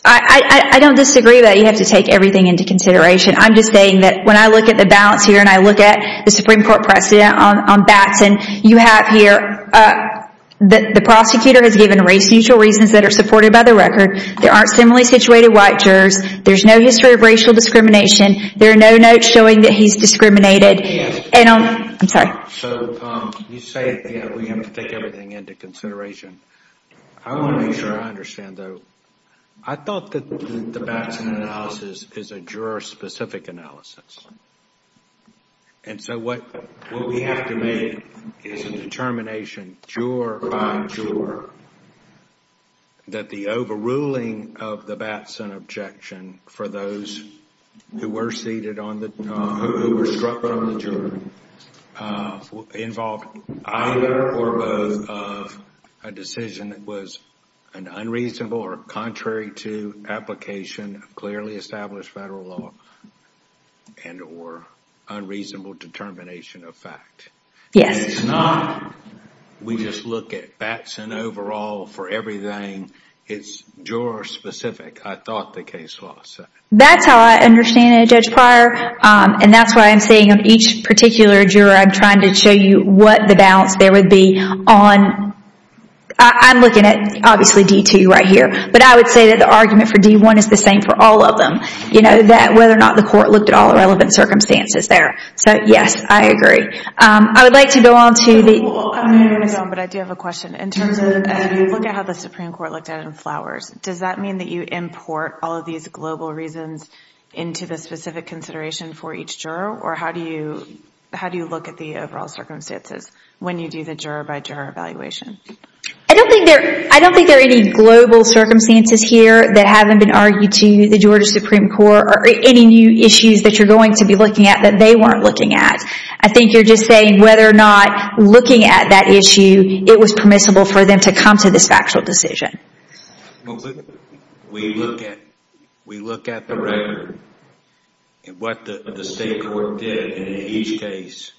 I don't disagree that you have to take everything into consideration. I'm just saying that when I look at the balance here, and I look at the Supreme Court precedent on Batson, you have here that the prosecutor has given race-neutral reasons that are supported by the record. There aren't similarly situated white jurors. There's no history of racial discrimination. There are no notes showing that he's discriminated. I'm sorry. So, you say that we have to take everything into consideration. I want to make sure I understand, though. I thought that the Batson analysis is a juror-specific analysis. And so what we have to make is a determination, juror by juror, that the overruling of the Batson objection for those who were seated on the... involved either or both of a decision that was an unreasonable or contrary to application of clearly established federal law and or unreasonable determination of fact. Yes. It's not we just look at Batson overall for everything. It's juror-specific. I thought the case was. That's how I understand it, Judge Pryor. And that's why I'm saying on each particular juror, I'm trying to show you what the balance there would be on. I'm looking at, obviously, D-2 right here. But I would say that the argument for D-1 is the same for all of them. You know, whether or not the court looked at all the relevant circumstances there. So, yes, I agree. I would like to go on to the... I'm going to go on, but I do have a question. In terms of if you look at how the Supreme Court looked at it in Flowers, does that mean that you import all of these global reasons into the specific consideration for each juror? Or how do you look at the overall circumstances when you do the juror-by-juror evaluation? I don't think there are any global circumstances here that haven't been argued to the Georgia Supreme Court or any new issues that you're going to be looking at that they weren't looking at. I think you're just saying whether or not looking at that issue, it was permissible for them to come to this factual decision. We look at the record and what the state court did in each case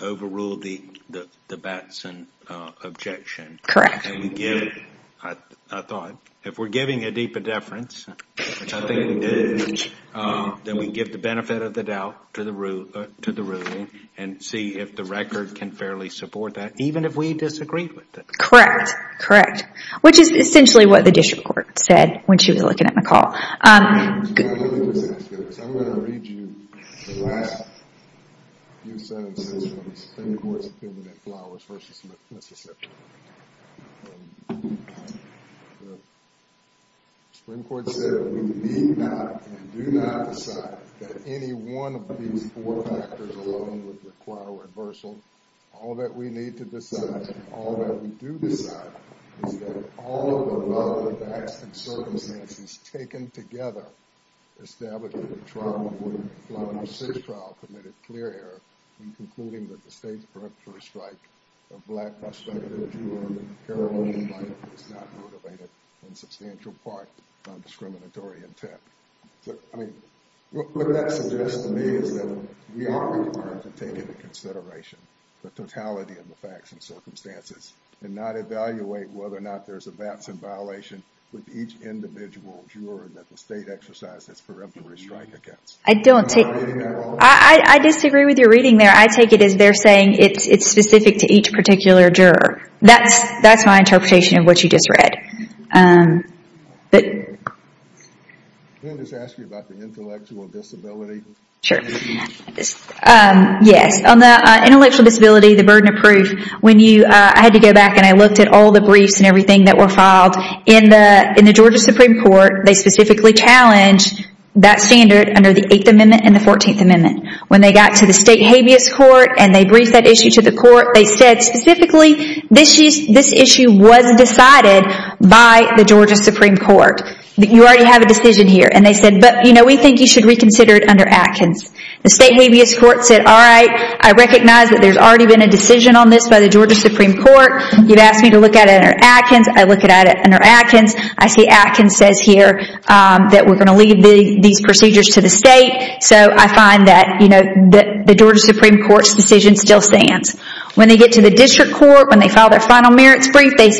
overruled the Batson objection. Correct. I thought, if we're giving a deep indifference, which I think we did, then we give the benefit of the doubt to the ruling and see if the record can fairly support that, even if we disagreed with it. Correct. Correct. Which is essentially what the district court said when she was looking at McCall. Let me just ask you this. I'm going to read you the last few sentences from the Supreme Court's opinion in Flowers v. Mississippi. The Supreme Court said that we need not and do not decide that any one of these four factors alone would require reversal. All that we need to decide, and all that we do decide, is that all of the relevant facts and circumstances taken together establish that the trial in Woodlawn, our sixth trial, committed clear error in concluding that the state's peripterous strike of Black, Hispanic, and Jew-American, Carolina-invited was not motivated in substantial part to non-discriminatory intent. I mean, what that suggests to me is that we are required to take into consideration the totality of the facts and circumstances and not evaluate whether or not there's a VATS in violation with each individual juror that the state exercised its peripterous strike against. I don't take... I disagree with your reading there. I take it as they're saying it's specific to each particular juror. That's my interpretation of what you just read. Can I just ask you about the intellectual disability? Sure. Yes. On the intellectual disability, the burden of proof, when you... I had to go back and I looked at all the briefs and everything that were filed. In the Georgia Supreme Court, they specifically challenged that standard under the 8th Amendment and the 14th Amendment. When they got to the state habeas court and they briefed that issue to the court, they said specifically this issue was decided by the Georgia Supreme Court. You already have a decision here. And they said, but we think you should reconsider it under Atkins. The state habeas court said, all right, I recognize that there's already been a decision on this by the Georgia Supreme Court. You've asked me to look at it under Atkins. I look at it under Atkins. I see Atkins says here that we're going to leave these procedures to the state. So I find that the Georgia Supreme Court's decision still stands. When they get to the district court, when they file their final merits brief, they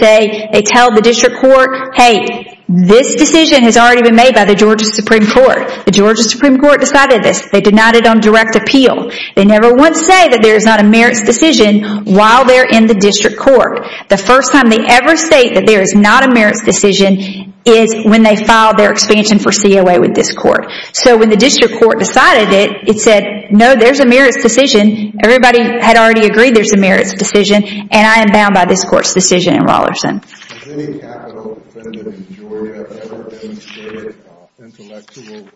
tell the district court, hey, this decision has already been made by the Georgia Supreme Court. The Georgia Supreme Court decided this. They denied it on direct appeal. They never once say that there is not a merits decision while they're in the district court. The first time they ever state that there is not a merits decision is when they filed their expansion for COA with this court. So when the district court decided it, it said, no, there's a merits decision. Everybody had already agreed there's a merits decision, and I am bound by this court's decision in Rollerson. Has any capital defendant in Georgia ever been treated with intellectual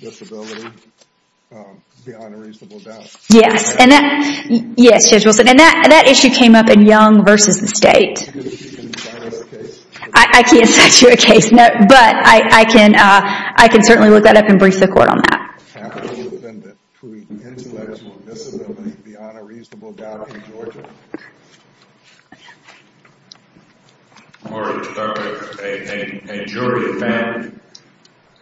disability beyond a reasonable doubt? Yes. Yes, Judge Wilson. And that issue came up in Young versus the state. Can you cite us a case? I can't cite you a case, but I can certainly look that up and brief the court on that. Has any capital defendant treated with intellectual disability beyond a reasonable doubt in Georgia? Or a jury found?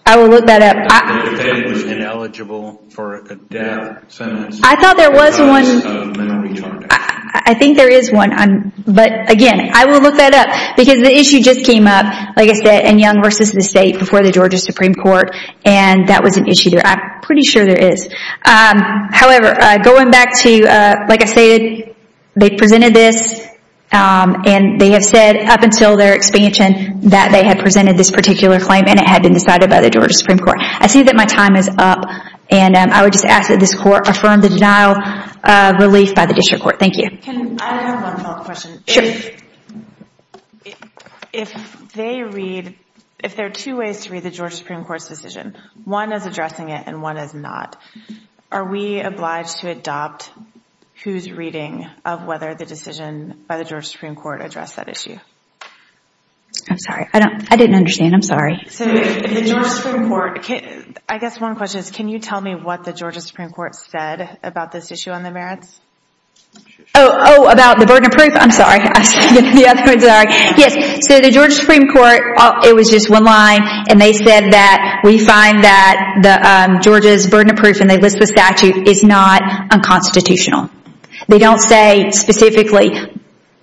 I will look that up. A defendant was ineligible for a death sentence because of mental retardation. I think there is one. But again, I will look that up because the issue just came up, like I said, in Young versus the state before the Georgia Supreme Court, and that was an issue there. I'm pretty sure there is. However, going back to, like I stated, they presented this, and they have said up until their expansion that they had presented this particular claim and it had been decided by the Georgia Supreme Court. I see that my time is up, and I would just ask that this court affirm the denial of relief by the district court. Thank you. I have one follow-up question. Sure. If there are two ways to read the Georgia Supreme Court's decision, one is addressing it and one is not, are we obliged to adopt who's reading of whether the decision by the Georgia Supreme Court addressed that issue? I'm sorry. I didn't understand. I'm sorry. I guess one question is, can you tell me what the Georgia Supreme Court said about this issue on the merits? Oh, about the burden of proof? I'm sorry. The Georgia Supreme Court, it was just one line, and they said that we find that Georgia's burden of proof, and they list the statute, is not unconstitutional. They don't say specifically,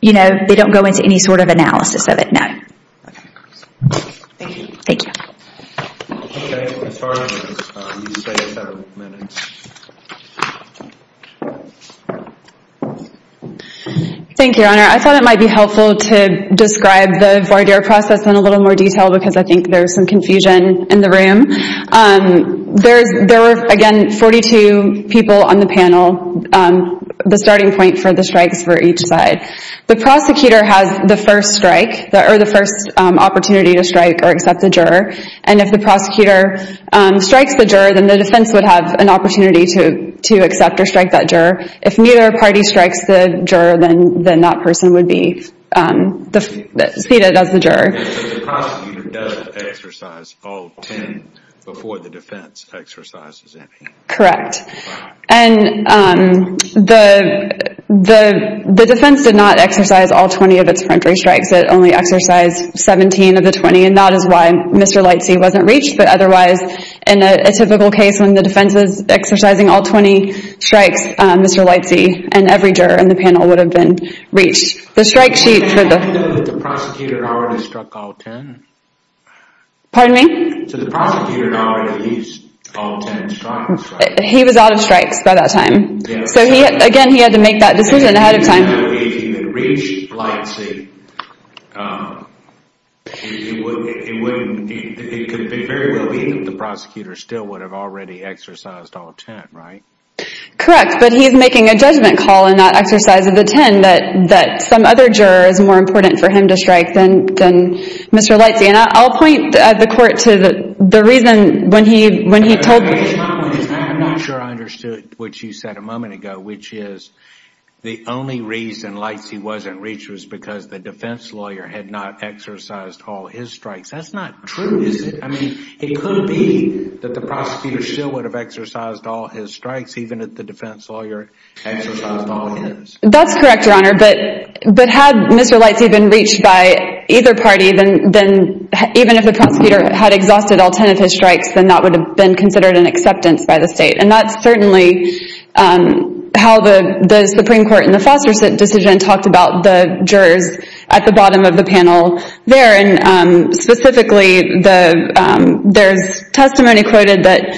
you know, they don't go into any sort of analysis of it. No. Okay. Thank you. Thank you. Thank you, Your Honor. I thought it might be helpful to describe the voir dire process in a little more detail because I think there's some confusion in the room. There were, again, 42 people on the panel the starting point for the strikes for each side. The prosecutor has the first strike or the first opportunity to strike or accept the juror, and if the prosecutor strikes the juror, then the defense would have an opportunity to accept or strike that juror. If neither party strikes the juror, then that person would be seated as the juror. So the prosecutor does exercise all 10 before the defense exercises any. Correct. And the defense did not exercise all 20 of its front row strikes. It only exercised 17 of the 20, and that is why Mr. Lightsey wasn't reached. But otherwise, in a typical case when the defense is exercising all 20 strikes, Mr. Lightsey and every juror in the panel would have been reached. The strike sheet for the... But the prosecutor had already struck all 10. Pardon me? So the prosecutor had already used all 10 strikes. He was out of strikes by that time. So again, he had to make that decision ahead of time. If he had reached Lightsey, it could very well be that the prosecutor still would have already exercised all 10, right? Correct, but he's making a judgment call in that exercise of the 10 that some other juror is more important for him to strike than Mr. Lightsey. And I'll point the court to the reason I'm not sure I understood what you said a moment ago, which is the only reason Lightsey wasn't reached was because the defense lawyer had not exercised all his strikes. That's not true, is it? I mean, it could be that the prosecutor still would have exercised all his strikes even if the defense lawyer exercised all his. That's correct, Your Honor. But had Mr. Lightsey been reached by either party, then even if the prosecutor had exhausted all 10 of his strikes, then that would have been considered an acceptance by the state. And that's certainly how the Supreme Court in the Foster decision talked about the jurors at the bottom of the panel there. And specifically, there's testimony quoted that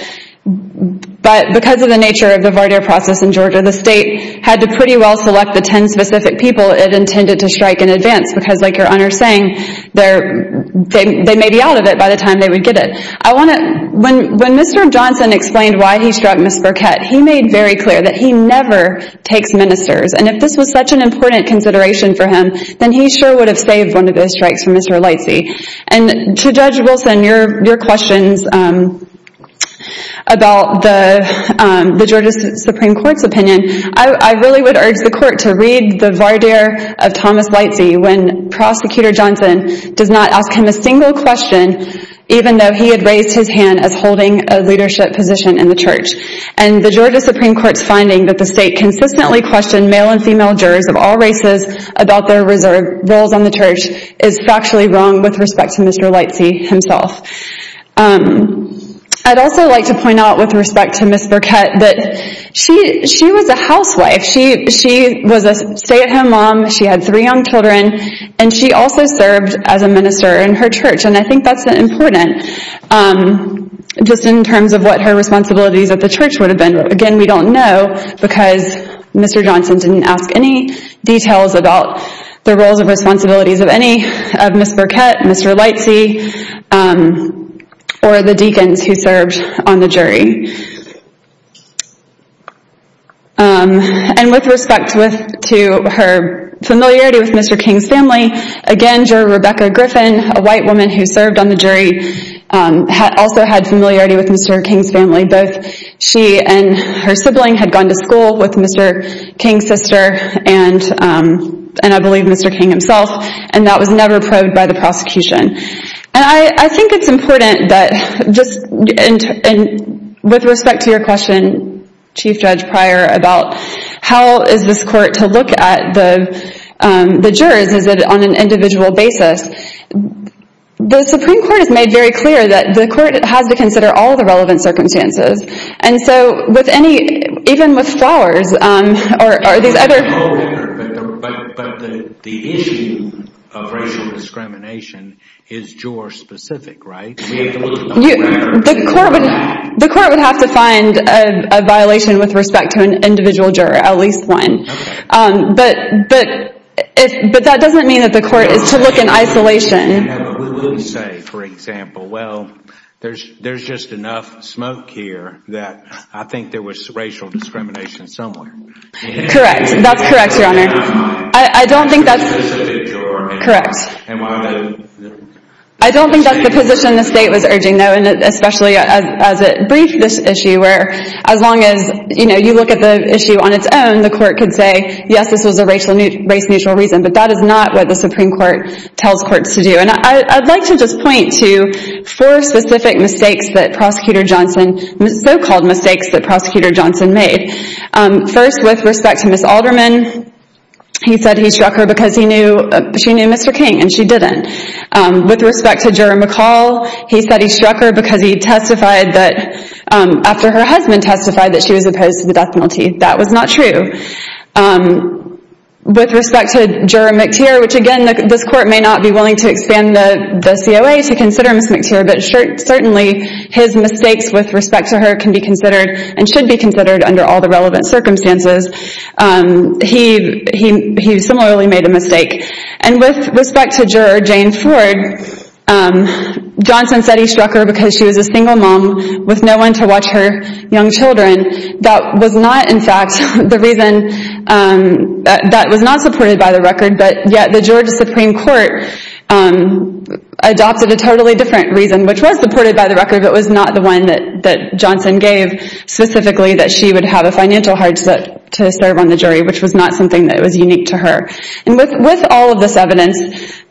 because of the nature of the Varder process in Georgia, the state had to pretty well select the 10 specific people it intended to strike in advance because, like Your Honor is saying, they may be out of it by the time they would get it. When Mr. Johnson explained why he struck Ms. Burkett, he made very clear that he never takes ministers. And if this was such an important consideration for him, then he sure would have saved one of those strikes for Mr. Lightsey. And to Judge Wilson, your questions about the Georgia Supreme Court's opinion, I really would urge the Court to read the Varder of Thomas Lightsey when Prosecutor Johnson does not ask him a single question even though he had raised his hand as holding a leadership position in the church. And the Georgia Supreme Court's finding that the state consistently questioned male and female jurors of all races about their roles on the church is factually wrong with respect to Mr. Lightsey himself. I'd also like to point out with respect to Ms. Burkett that she was a housewife. She was a stay-at-home mom. She had three young children. And she also served as a minister in her church. And I think that's important just in terms of what her responsibilities at the church would have been. Again, we don't know because Mr. Johnson didn't ask any details about the roles and responsibilities of Ms. Burkett, Mr. Lightsey, or the deacons who served on the jury. And with respect to her familiarity with Mr. King's family, again, Juror Rebecca Griffin, a white woman who served on the jury, also had familiarity with Mr. King's family. Both she and her sibling had gone to school with Mr. King's sister, and I believe Mr. King himself, and that was never proved by the prosecution. And I think it's important that just with respect to your question, Chief Judge Pryor, about how is this court to look at the jurors? Is it on an individual basis? The Supreme Court has made very clear that the court has to consider all the relevant circumstances. And so with any, even with Flowers, or these other... But the issue of racial discrimination is juror specific, right? The court would have to find a violation with respect to an individual juror, at least one. But that doesn't mean that the court is to look in isolation. We will say, for example, well, there's just enough smoke here that I think there was racial discrimination somewhere. Correct. That's correct, Your Honor. I don't think that's... Correct. I don't think that's the position the state was urging, though, and especially as it briefed this issue, where as long as you look at the issue on its own, the court could say, yes, this was a race-neutral reason, but that is not what the Supreme Court tells courts to do. And I'd like to just point to four specific mistakes that Prosecutor Johnson, so-called mistakes that Prosecutor Johnson made. First, with respect to Ms. Alderman, he said he struck her because she knew Mr. King, and she didn't. With respect to Juror McCall, he said he struck her because he testified that after her husband testified that she was opposed to the death penalty. That was not true. With respect to Juror McTeer, which again, this court may not be willing to expand the COA to consider Ms. McTeer, but certainly his mistakes with respect to her can be considered and should be considered under all the relevant circumstances. He similarly made a mistake. And with respect to Juror Jane Ford, Johnson said he struck her because she was a single mom with no one to watch her young children. That was not, in fact, the reason, that was not supported by the record, but yet the Georgia Supreme Court adopted a totally different reason, which was supported by the record, but was not the one that Johnson gave specifically, that she would have a financial hardship to serve on the jury, which was not something that was unique to her. And with all of this evidence,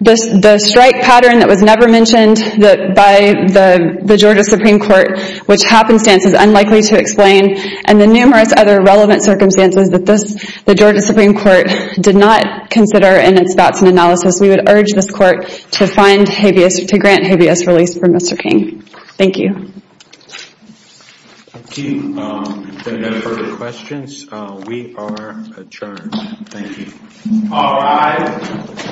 the strike pattern that was never mentioned by the Georgia Supreme Court, which happenstance is unlikely to explain, and the numerous other relevant circumstances that the Georgia Supreme Court did not consider in its thoughts and analysis, we would urge this court to grant habeas release for Mr. King. Thank you. Thank you for your questions. We are adjourned. Thank you. All rise.